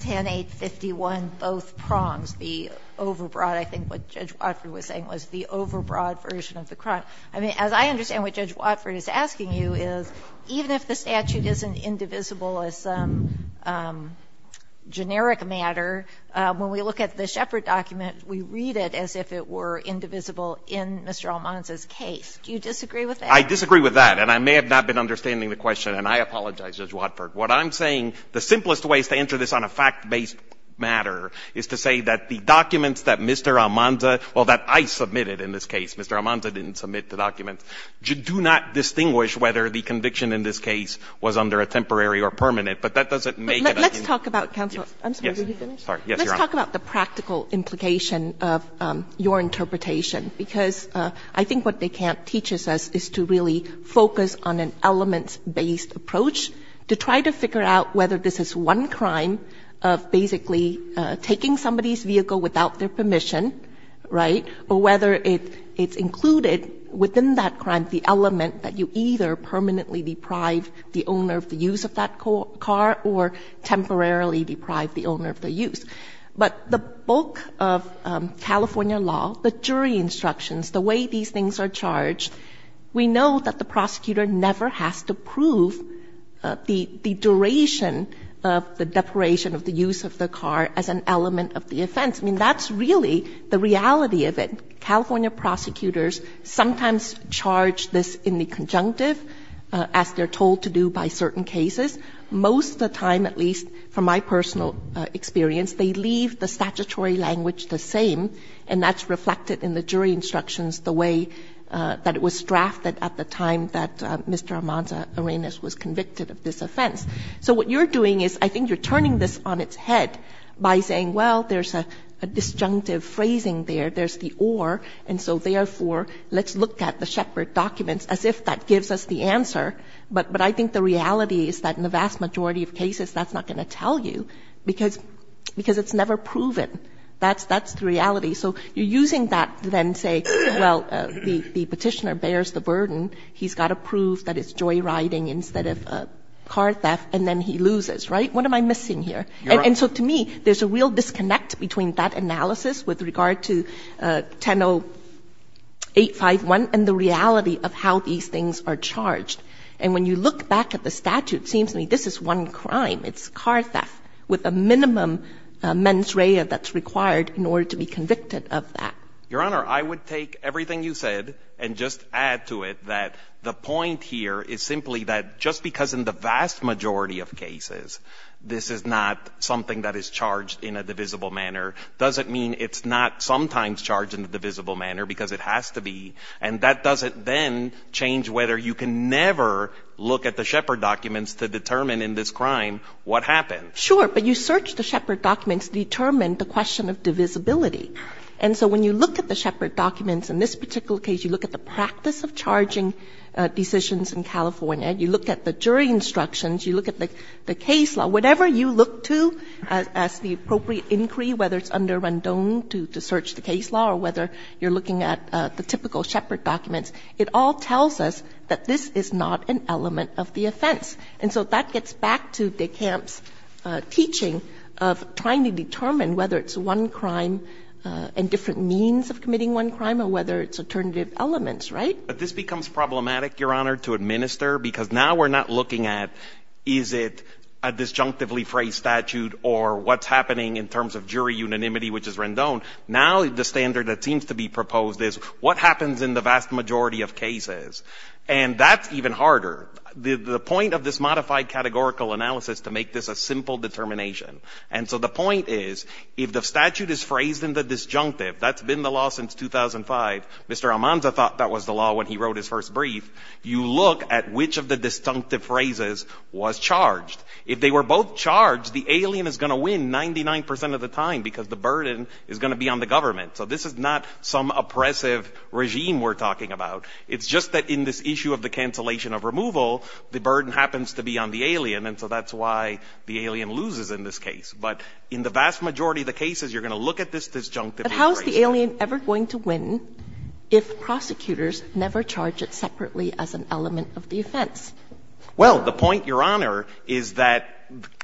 10-851, both prongs, the overbroad. I think what Judge Watford was saying was the overbroad version of the crime. I mean, as I understand what Judge Watford is asking you is, even if the statute isn't indivisible as some generic matter, when we look at the Shepard document, we read it as if it were indivisible in Mr. Almanza's case. Do you disagree with that? I disagree with that. And I may have not been understanding the question, and I apologize, Judge Watford. What I'm saying, the simplest ways to answer this on a fact-based matter is to say that the documents that Mr. Almanza or that I submitted in this case, Mr. Almanza didn't submit the documents, do not distinguish whether the conviction in this case was under a temporary or permanent. But that doesn't make it a unique case. But let's talk about, counsel, I'm sorry, were you finished? Yes, Your Honor. Let's talk about the practical implication of your interpretation. Because I think what they can't teach us is to really focus on an elements-based approach to try to figure out whether this is one crime of basically taking somebody's vehicle without their permission, right, or whether it's included within that crime the element that you either permanently deprive the owner of the use of that car or temporarily deprive the owner of the use. But the bulk of California law, the jury instructions, the way these things are charged, we know that the prosecutor never has to prove the duration of the depuration of the use of the car as an element of the offense. I mean, that's really the reality of it. California prosecutors sometimes charge this in the conjunctive, as they're told to do by certain cases. Most of the time, at least from my personal experience, they leave the statutory language the same, and that's reflected in the jury instructions the way that it was drafted at the time that Mr. Armanza-Arenas was convicted of this offense. So what you're doing is I think you're turning this on its head by saying, well, there's a disjunctive phrasing there. There's the or. And so therefore, let's look at the Shepard documents as if that gives us the answer. But I think the reality is that in the vast majority of cases, that's not going to tell you, because it's never proven. That's the reality. So you're using that to then say, well, the petitioner bears the burden. He's got to prove that it's joyriding instead of car theft, and then he loses, right? What am I missing here? And so to me, there's a real disconnect between that analysis with regard to 10-0851 and the reality of how these things are charged. And when you look back at the statute, it seems to me this is one crime. It's car theft with a minimum mens rea that's required in order to be convicted of that. Your Honor, I would take everything you said and just add to it that the point here is simply that just because in the vast majority of cases, this is not something that is charged in a divisible manner, doesn't mean it's not sometimes charged in a divisible manner, because it has to be. And that doesn't then change whether you can never look at the Shepard documents to determine in this crime what happened. Sure, but you search the Shepard documents to determine the question of divisibility. And so when you look at the Shepard documents in this particular case, you look at the practice of charging decisions in California, you look at the jury instructions, you look at the case law, whatever you look to as the appropriate inquiry, whether it's under Rendon to search the case law or whether you're looking at the typical Shepard documents, it all tells us that this is not an element of the offense. And so that gets back to de Kamp's teaching of trying to determine whether it's one crime and different means of committing one crime or whether it's alternative elements, right? But this becomes problematic, Your Honor, to administer, because now we're not looking at, is it a disjunctively phrased statute or what's happening in terms of jury unanimity, which is Rendon? Now the standard that seems to be proposed is what happens in the vast majority of cases? And that's even harder. The point of this modified categorical analysis to make this a simple determination. And so the point is, if the statute is phrased in the disjunctive, that's been the law since 2005. Mr. Almanza thought that was the law when he wrote his first brief. You look at which of the disjunctive phrases was charged. If they were both charged, the alien is going to win 99 percent of the time, because the burden is going to be on the government. So this is not some oppressive regime we're talking about. It's just that in this issue of the cancellation of removal, the burden happens to be on the alien. And so that's why the alien loses in this case. But in the vast majority of the cases, you're going to look at this disjunctive phrase. But how is the alien ever going to win if prosecutors never charge it separately as an element of the offense? Well, the point, Your Honor, is that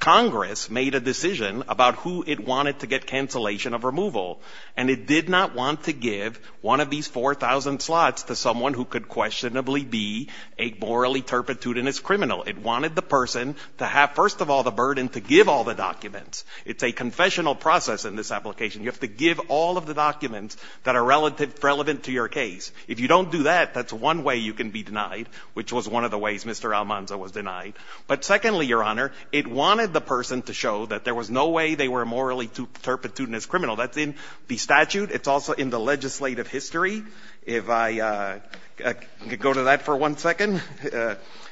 Congress made a decision about who it wanted to get cancellation of removal. And it did not want to give one of these 4,000 slots to someone who could questionably be a morally turpitude and is criminal. It wanted the person to have, first of all, the burden to give all the documents. It's a confessional process in this application. You have to give all of the documents that are relevant to your case. If you don't do that, that's one way you can be denied, which was one of the ways, Mr. Almanza, was denied. But secondly, Your Honor, it wanted the person to show that there was no way they were morally turpitude and is criminal. That's in the statute. It's also in the legislative history. If I could go to that for one second.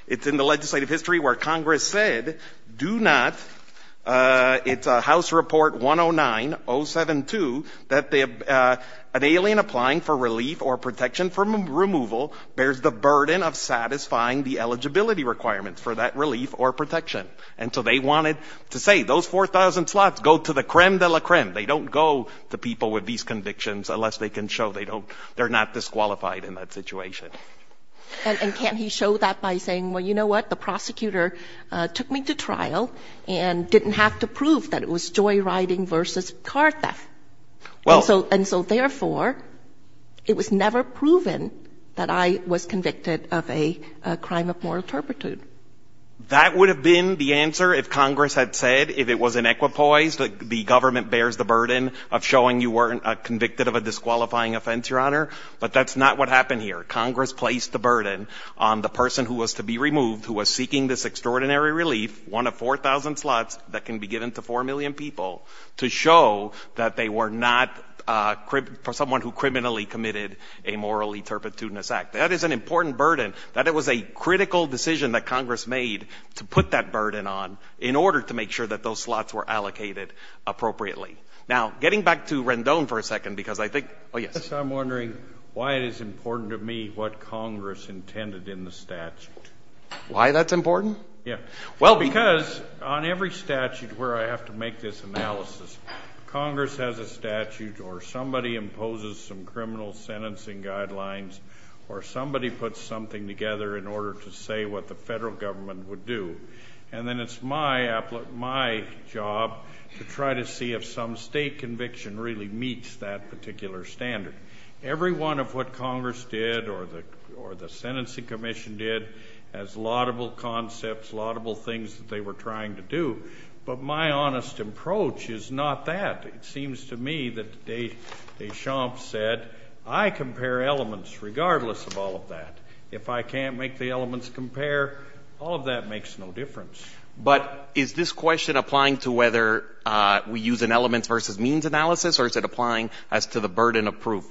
It's in the legislative history where Congress said, do not. It's a House Report 109-072 that an alien applying for relief or protection from removal bears the burden of satisfying the eligibility requirements for that relief or protection. And so they wanted to say, those 4,000 slots go to the creme de la creme. They don't go to people with these convictions unless they can show they don't, they're not disqualified in that situation. And can't he show that by saying, well, you know what? The prosecutor took me to trial and didn't have to prove that it was joyriding versus car theft. And so therefore, it was never proven that I was convicted of a crime of moral turpitude. That would have been the answer if Congress had said, if it was inequipoise, that the government bears the burden of showing you weren't convicted of a disqualifying offense, Your Honor. But that's not what happened here. Congress placed the burden on the person who was to be removed, who was seeking this extraordinary relief, one of 4,000 slots that can be given to 4 million people to show that they were not someone who criminally committed a morally turpitudinous act. That is an important burden, that it was a critical decision that Congress made to put that burden on in order to make sure that those slots were allocated appropriately. Now, getting back to Rendon for a second because I think, oh, yes. I'm wondering why it is important to me what Congress intended in the statute. Why that's important? Yeah. Well, because on every statute where I have to make this analysis, Congress has a statute or somebody imposes some criminal sentencing guidelines or somebody puts something together in order to say what the federal government would do. And then it's my job to try to see if some state conviction really meets that particular standard. Every one of what Congress did or the Sentencing Commission did has laudable concepts, laudable things that they were trying to do. But my honest approach is not that. It seems to me that Deschamps said, I compare elements regardless of all of that. If I can't make the elements compare, all of that makes no difference. But is this question applying to whether we use an elements versus means analysis or is it applying as to the burden of proof?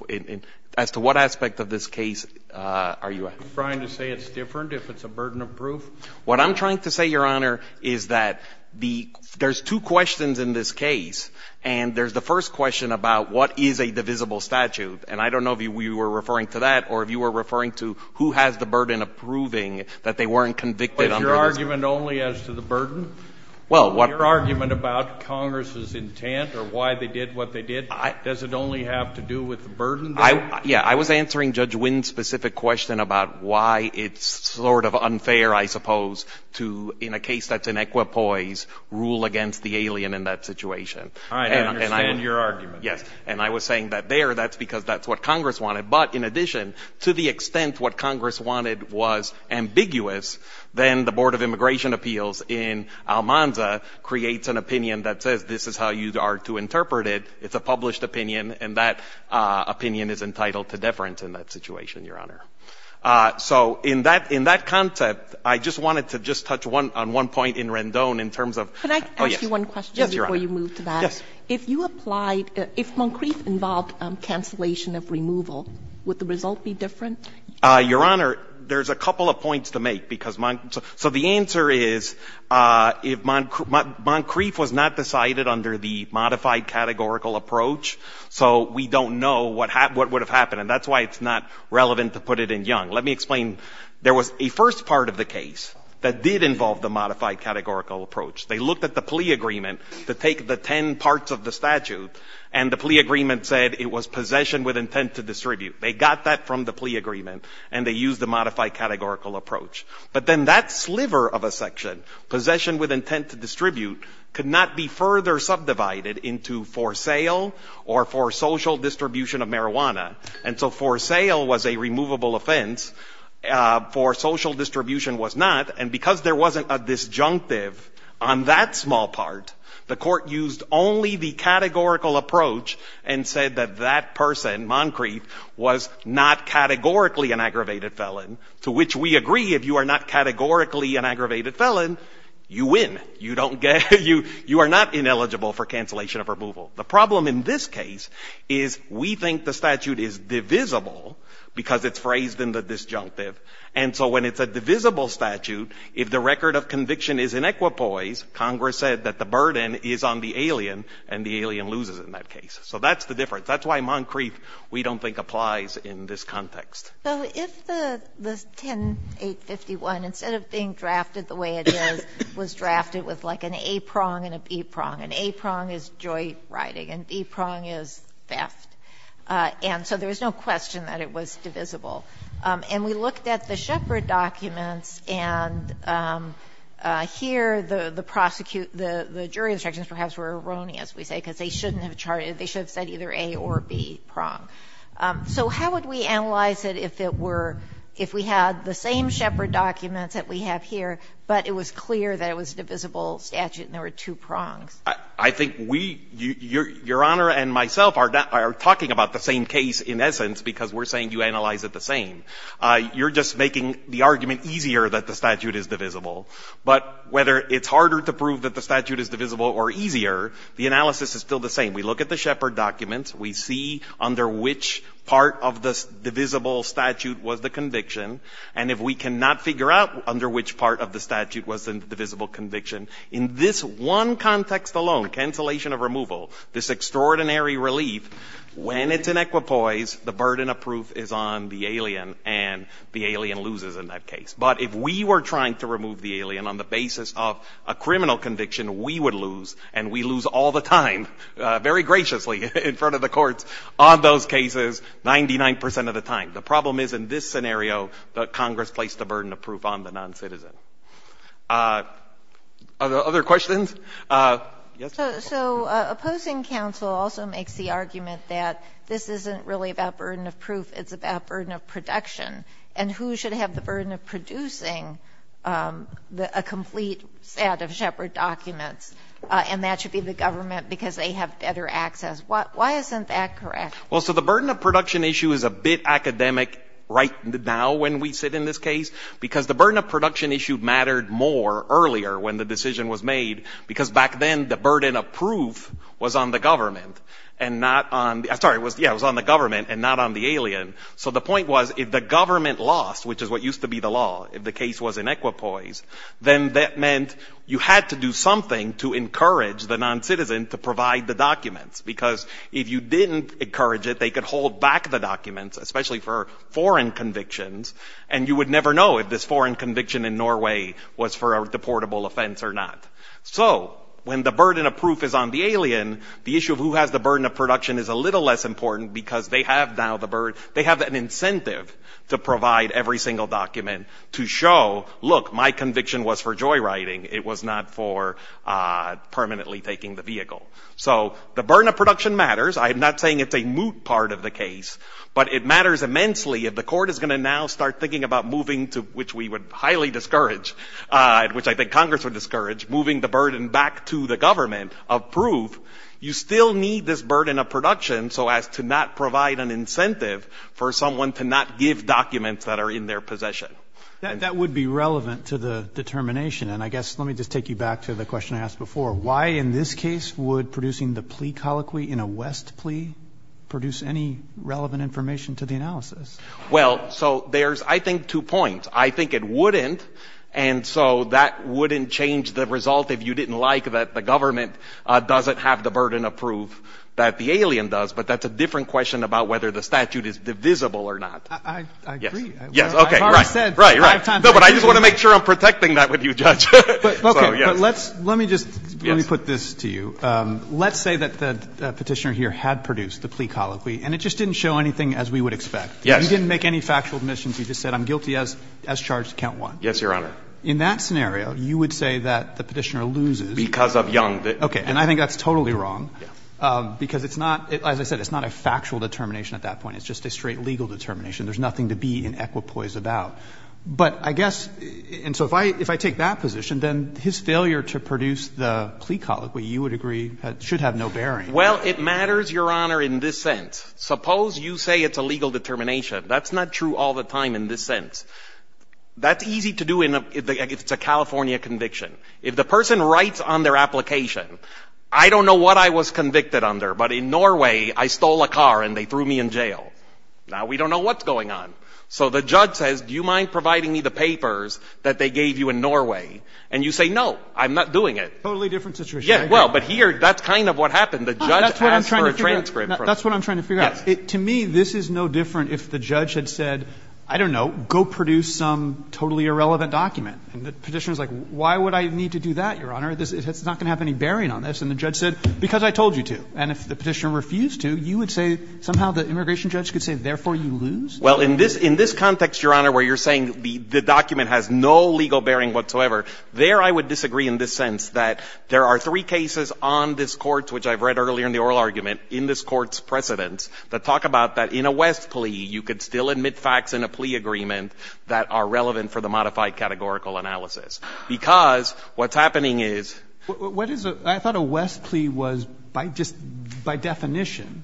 As to what aspect of this case are you at? Are you trying to say it's different if it's a burden of proof? What I'm trying to say, Your Honor, is that the — there's two questions in this case, and there's the first question about what is a divisible statute. And I don't know if you were referring to that or if you were referring to who has the burden of proving that they weren't convicted under this. But is your argument only as to the burden? Well, what — Your argument about Congress's intent or why they did what they did, does it only have to do with the burden there? Yeah, I was answering Judge Wynn's specific question about why it's sort of unfair, I suppose, to, in a case that's in equipoise, rule against the alien in that situation. All right, I understand your argument. Yes, and I was saying that there, that's because that's what Congress wanted. But in addition, to the extent what Congress wanted was ambiguous, then the Board of Immigration Appeals in Almanza creates an opinion that says this is how you are to interpret it. It's a published opinion, and that opinion is entitled to deference in that situation, Your Honor. So in that, in that concept, I just wanted to just touch on one point in Rendon in terms of — Could I ask you one question — Yes, Your Honor. — before you move to that? Yes. If you applied — if Moncrief involved cancellation of removal, would the result be different? Your Honor, there's a couple of points to make, because — so the answer is, if Moncrief was not decided under the modified categorical approach, so we don't know what would have happened. And that's why it's not relevant to put it in Young. Let me explain. There was a first part of the case that did involve the modified categorical approach. They looked at the plea agreement to take the ten parts of the statute, and the plea agreement said it was possession with intent to distribute. They got that from the plea agreement, and they used the modified categorical approach. But then that sliver of a section, possession with intent to distribute, could not be further subdivided into for sale or for social distribution of marijuana. And so for sale was a removable offense, for social distribution was not, and because there wasn't a disjunctive on that small part, the court used only the categorical approach and said that that person, Moncrief, was not categorically an aggravated felon, to which we agree, if you are not categorically an aggravated felon, you win. You don't get, you are not ineligible for cancellation of removal. The problem in this case is we think the statute is divisible because it's phrased in the disjunctive, and so when it's a divisible statute, if the record of conviction is in equipoise, Congress said that the burden is on the alien and the alien loses in that case. So that's the difference. That's why Moncrief, we don't think, applies in this context. So if the 10-851, instead of being drafted the way it is, was drafted with like an A prong and a B prong. An A prong is joint writing and B prong is theft. And so there was no question that it was divisible. And we looked at the Shepard documents and here the prosecute, the jury instructions perhaps were erroneous, we say, because they shouldn't have charted, they should have said either A or B prong. So how would we analyze it if it were, if we had the same Shepard documents that we have here, but it was clear that it was a divisible statute and there were two prongs? I think we, Your Honor and myself are talking about the same case in essence because we're saying you analyze it the same. You're just making the argument easier that the statute is divisible. But whether it's harder to prove that the statute is divisible or easier, the analysis is still the same. We look at the Shepard documents. We see under which part of the divisible statute was the conviction. And if we cannot figure out under which part of the statute was the divisible conviction, in this one context alone, cancellation of removal, this extraordinary relief, when it's in equipoise, the burden of proof is on the alien and the alien loses in that case. But if we were trying to remove the alien on the basis of a criminal conviction, we would lose and we lose all the time, very graciously in front of the courts, on those cases 99% of the time. The problem is in this scenario that Congress placed a burden of proof on the non-citizen. Other questions? So opposing counsel also makes the argument that this isn't really about burden of proof. It's about burden of production and who should have the burden of producing a complete set of Shepard documents and that should be the government because they have better access. Why isn't that correct? Well, so the burden of production issue is a bit academic right now when we sit in this case because the burden of production issue mattered more earlier when the decision was made because back then the burden of proof was on the government and not on the, sorry, yeah, it was on the government and not on the alien. So the point was if the government lost, which is what used to be the law, if the government lost, then that meant you had to do something to encourage the non-citizen to provide the documents because if you didn't encourage it, they could hold back the documents, especially for foreign convictions, and you would never know if this foreign conviction in Norway was for a deportable offense or not. So when the burden of proof is on the alien, the issue of who has the burden of production is a little less important because they have now the burden, they have an incentive to provide every single document to show, look, my conviction was for joyriding, it was not for permanently taking the vehicle. So the burden of production matters. I'm not saying it's a moot part of the case, but it matters immensely if the court is going to now start thinking about moving to, which we would highly discourage, which I think Congress would discourage, moving the burden back to the government of proof, you still need this burden of production so as to not provide an incentive for someone to not give documents that are in their possession. That would be relevant to the determination, and I guess, let me just take you back to the question I asked before, why in this case would producing the plea colloquy in a West plea produce any relevant information to the analysis? Well, so there's, I think, two points. I think it wouldn't, and so that wouldn't change the result if you didn't like that the government doesn't have the burden of proof that the alien does, but that's a different question about whether the statute is divisible or not. I agree. Yes, okay, right. I've already said five times I agree. No, but I just want to make sure I'm protecting that with you, Judge. Okay. But let's, let me just, let me put this to you. Let's say that the Petitioner here had produced the plea colloquy and it just didn't show anything as we would expect. Yes. You didn't make any factual admissions. You just said I'm guilty as charged to count one. Yes, Your Honor. In that scenario, you would say that the Petitioner loses. Because of Young. Okay. And I think that's totally wrong, because it's not, as I said, it's not a factual determination at that point. It's just a straight legal determination. There's nothing to be in equipoise about. But I guess, and so if I, if I take that position, then his failure to produce the plea colloquy, you would agree, should have no bearing. Well, it matters, Your Honor, in this sense. Suppose you say it's a legal determination. That's not true all the time in this sense. That's easy to do in a, if it's a California conviction. If the person writes on their application, I don't know what I was convicted under, but in Norway, I stole a car and they threw me in jail. Now, we don't know what's going on. So the judge says, do you mind providing me the papers that they gave you in Norway? And you say, no, I'm not doing it. Totally different situation. Yeah, well, but here, that's kind of what happened. The judge asked for a transcript. That's what I'm trying to figure out. To me, this is no different if the judge had said, I don't know, go produce some totally irrelevant document. And the Petitioner is like, why would I need to do that, Your Honor? It's not going to have any bearing on this. And the judge said, because I told you to. And if the Petitioner refused to, you would say, somehow the immigration judge could say, therefore, you lose? Well, in this context, Your Honor, where you're saying the document has no legal bearing whatsoever, there I would disagree in the sense that there are three cases on this Court, which I've read earlier in the oral argument, in this Court's precedents, that talk about that in a West plea, you could still admit facts in a plea agreement that are relevant for the modified categorical analysis. Because what's happening is What is a, I thought a West plea was by just by definition,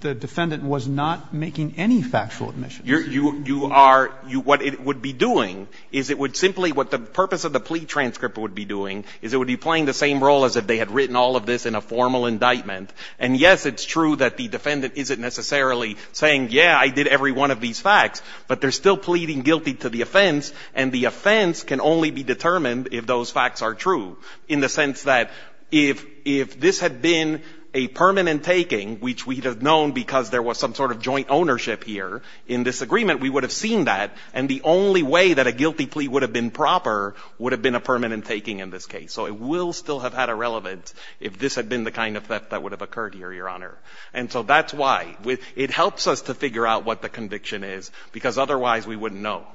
the defendant was not making any factual admission. You're, you are, you, what it would be doing is it would simply, what the purpose of the plea transcript would be doing is it would be playing the same role as if they had written all of this in a formal indictment. And yes, it's true that the defendant isn't necessarily saying, yeah, I did every one of these facts, but they're still pleading guilty to the offense. And the offense can only be determined if those facts are true in the sense that if, if this had been a permanent taking, which we'd have known because there was some sort of joint ownership here in this agreement, we would have seen that. And the only way that a guilty plea would have been proper would have been a permanent taking in this case. So it will still have had a relevance if this had been the kind of theft that would have occurred here, Your Honor. And so that's why, it helps us to figure out what the conviction is, because otherwise we wouldn't know.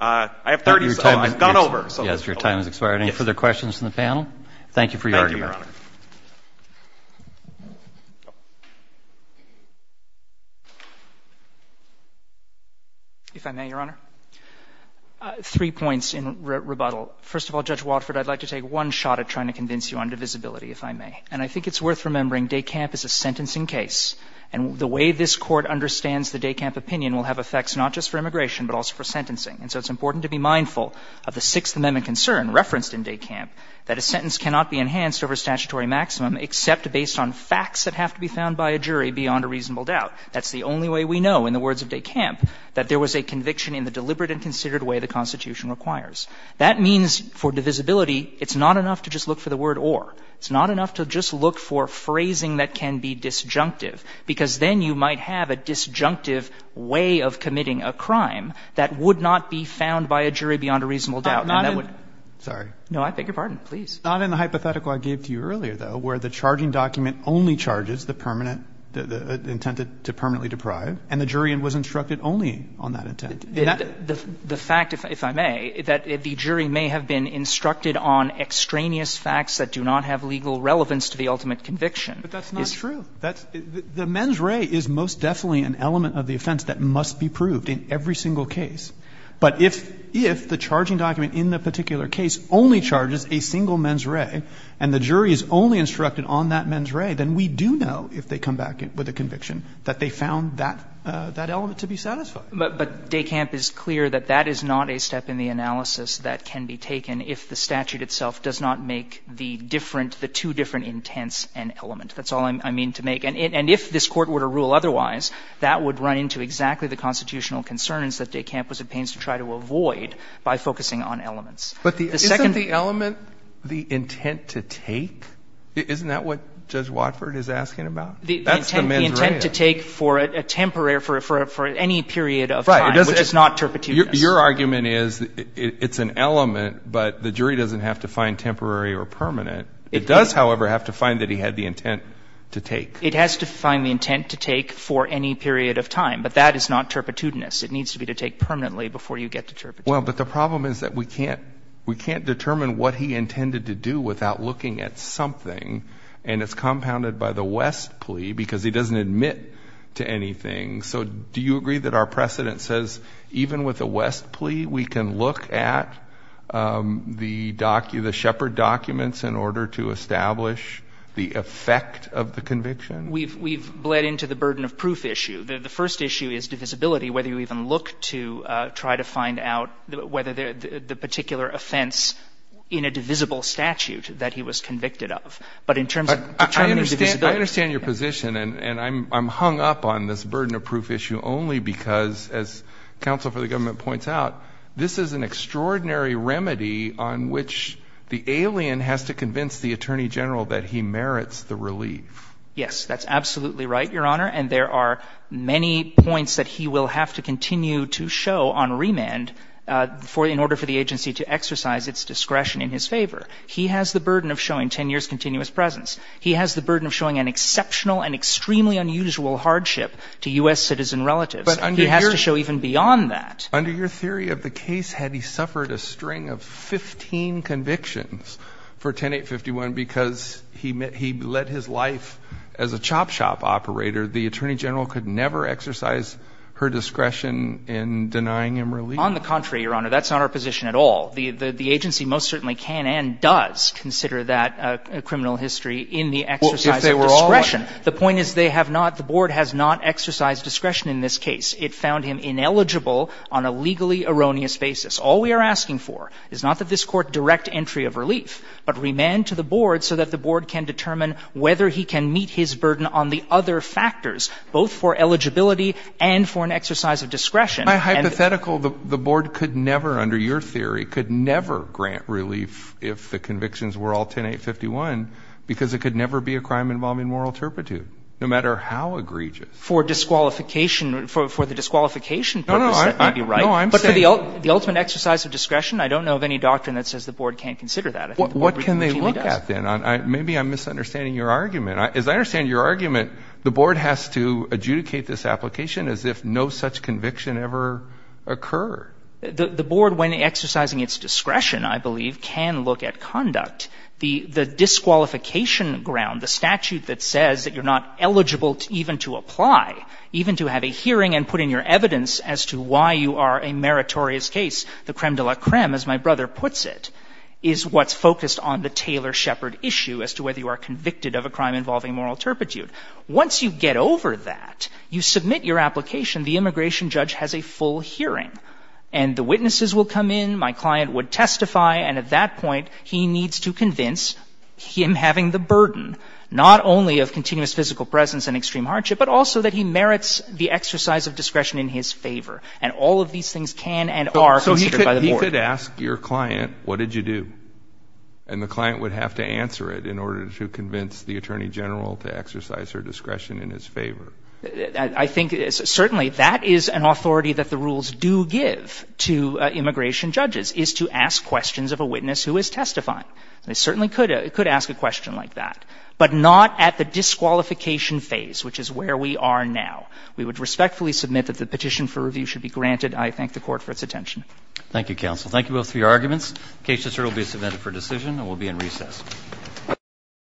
I have 30, oh, I've gone over. So. Yes, your time has expired. Any further questions from the panel? Thank you for your argument. Thank you, Your Honor. If I may, Your Honor. Three points in rebuttal. First of all, Judge Watford, I'd like to take one shot at trying to convince you on divisibility, if I may. And I think it's worth remembering, DECAMP is a sentencing case. And the way this Court understands the DECAMP opinion will have effects not just for immigration, but also for sentencing. And so it's important to be mindful of the Sixth Amendment concern referenced in DECAMP, that a sentence cannot be enhanced over statutory maximum except based on facts that have to be found by a jury beyond a reasonable doubt. That's the only way we know, in the words of DECAMP, that there was a conviction in the deliberate and considered way the Constitution requires. That means for divisibility, it's not enough to just look for the word or. It's not enough to just look for phrasing that can be disjunctive, because then you might have a disjunctive way of committing a crime that would not be found by a jury beyond a reasonable doubt. And that would. Roberts, sorry. No, I beg your pardon. Please. Not in the hypothetical I gave to you earlier, though, where the charging document only charges the permanent, the intent to permanently deprive. And the jury was instructed only on that intent. The fact, if I may, that the jury may have been instructed on extraneous facts that do not have legal relevance to the ultimate conviction. But that's not true. That's the mens rea is most definitely an element of the offense that must be proved in every single case. But if the charging document in the particular case only charges a single mens rea, and the jury is only instructed on that mens rea, then we do know, if they come back with a conviction, that they found that element to be satisfying. But Dekamp is clear that that is not a step in the analysis that can be taken if the statute itself does not make the different, the two different intents an element. That's all I mean to make. And if this Court were to rule otherwise, that would run into exactly the constitutional concerns that Dekamp was at pains to try to avoid by focusing on elements. But the second — Isn't the element the intent to take? Isn't that what Judge Watford is asking about? That's the mens rea. The intent to take for a temporary — for any period of time, which is not turpitude. Your argument is it's an element, but the jury doesn't have to find temporary or permanent. It does, however, have to find that he had the intent to take. It has to find the intent to take for any period of time. But that is not turpitudinous. It needs to be to take permanently before you get to turpitude. Well, but the problem is that we can't — we can't determine what he intended to do without looking at something. And it's compounded by the West plea, because he doesn't admit to anything. So do you agree that our precedent says even with a West plea, we can look at the Shepherd documents in order to establish the effect of the conviction? We've bled into the burden of proof issue. The first issue is divisibility, whether you even look to try to find out whether the particular offense in a divisible statute that he was convicted of. But in terms of determining divisibility — I understand your position, and I'm hung up on this burden of proof issue only because, as counsel for the government points out, this is an extraordinary remedy on which the alien has to convince the attorney general that he merits the relief. Yes, that's absolutely right, Your Honor. And there are many points that he will have to continue to show on remand for — in order for the agency to exercise its discretion in his favor. He has the burden of showing 10 years' continuous presence. He has the burden of showing an exceptional and extremely unusual hardship to U.S. citizen relatives. But under your — He has to show even beyond that. Under your theory of the case, had he suffered a string of 15 convictions for 10-851 because he let his life as a chop shop operator, the attorney general could never exercise her discretion in denying him relief? On the contrary, Your Honor. That's not our position at all. The agency most certainly can and does consider that a criminal history in the exercise of discretion. The point is they have not — the board has not exercised discretion in this case. It found him ineligible on a legally erroneous basis. All we are asking for is not that this Court direct entry of relief, but remand to the board so that the board can determine whether he can meet his burden on the other factors, both for eligibility and for an exercise of discretion. My hypothetical, the board could never, under your theory, could never grant relief if the convictions were all 10-851 because it could never be a crime involving moral turpitude, no matter how egregious. For disqualification — for the disqualification purpose, that may be right. No, no. I'm saying — But for the ultimate exercise of discretion, I don't know of any doctrine that says the board can't consider that. What can they look at, then? Maybe I'm misunderstanding your argument. As I understand your argument, the board has to adjudicate this application as if no such conviction ever occurred. The board, when exercising its discretion, I believe, can look at conduct. The disqualification ground, the statute that says that you're not eligible even to apply, even to have a hearing and put in your evidence as to why you are a meritorious case, the creme de la creme, as my brother puts it, is what's focused on the Taylor Shepard issue as to whether you are convicted of a crime involving moral turpitude. Once you get over that, you submit your application. The immigration judge has a full hearing, and the witnesses will come in. My client would testify, and at that point, he needs to convince him having the burden not only of continuous physical presence and extreme hardship, but also that he merits the exercise of discretion in his favor. And all of these things can and are considered by the board. So he could ask your client, what did you do? And the client would have to answer it in order to convince the attorney general to exercise her discretion in his favor. I think certainly that is an authority that the rules do give to immigration judges, is to ask questions of a witness who is testifying. They certainly could ask a question like that. But not at the disqualification phase, which is where we are now. We would respectfully submit that the petition for review should be granted. I thank the court for its attention. Thank you, counsel. Thank you both for your arguments. The case will be submitted for decision and will be in recess.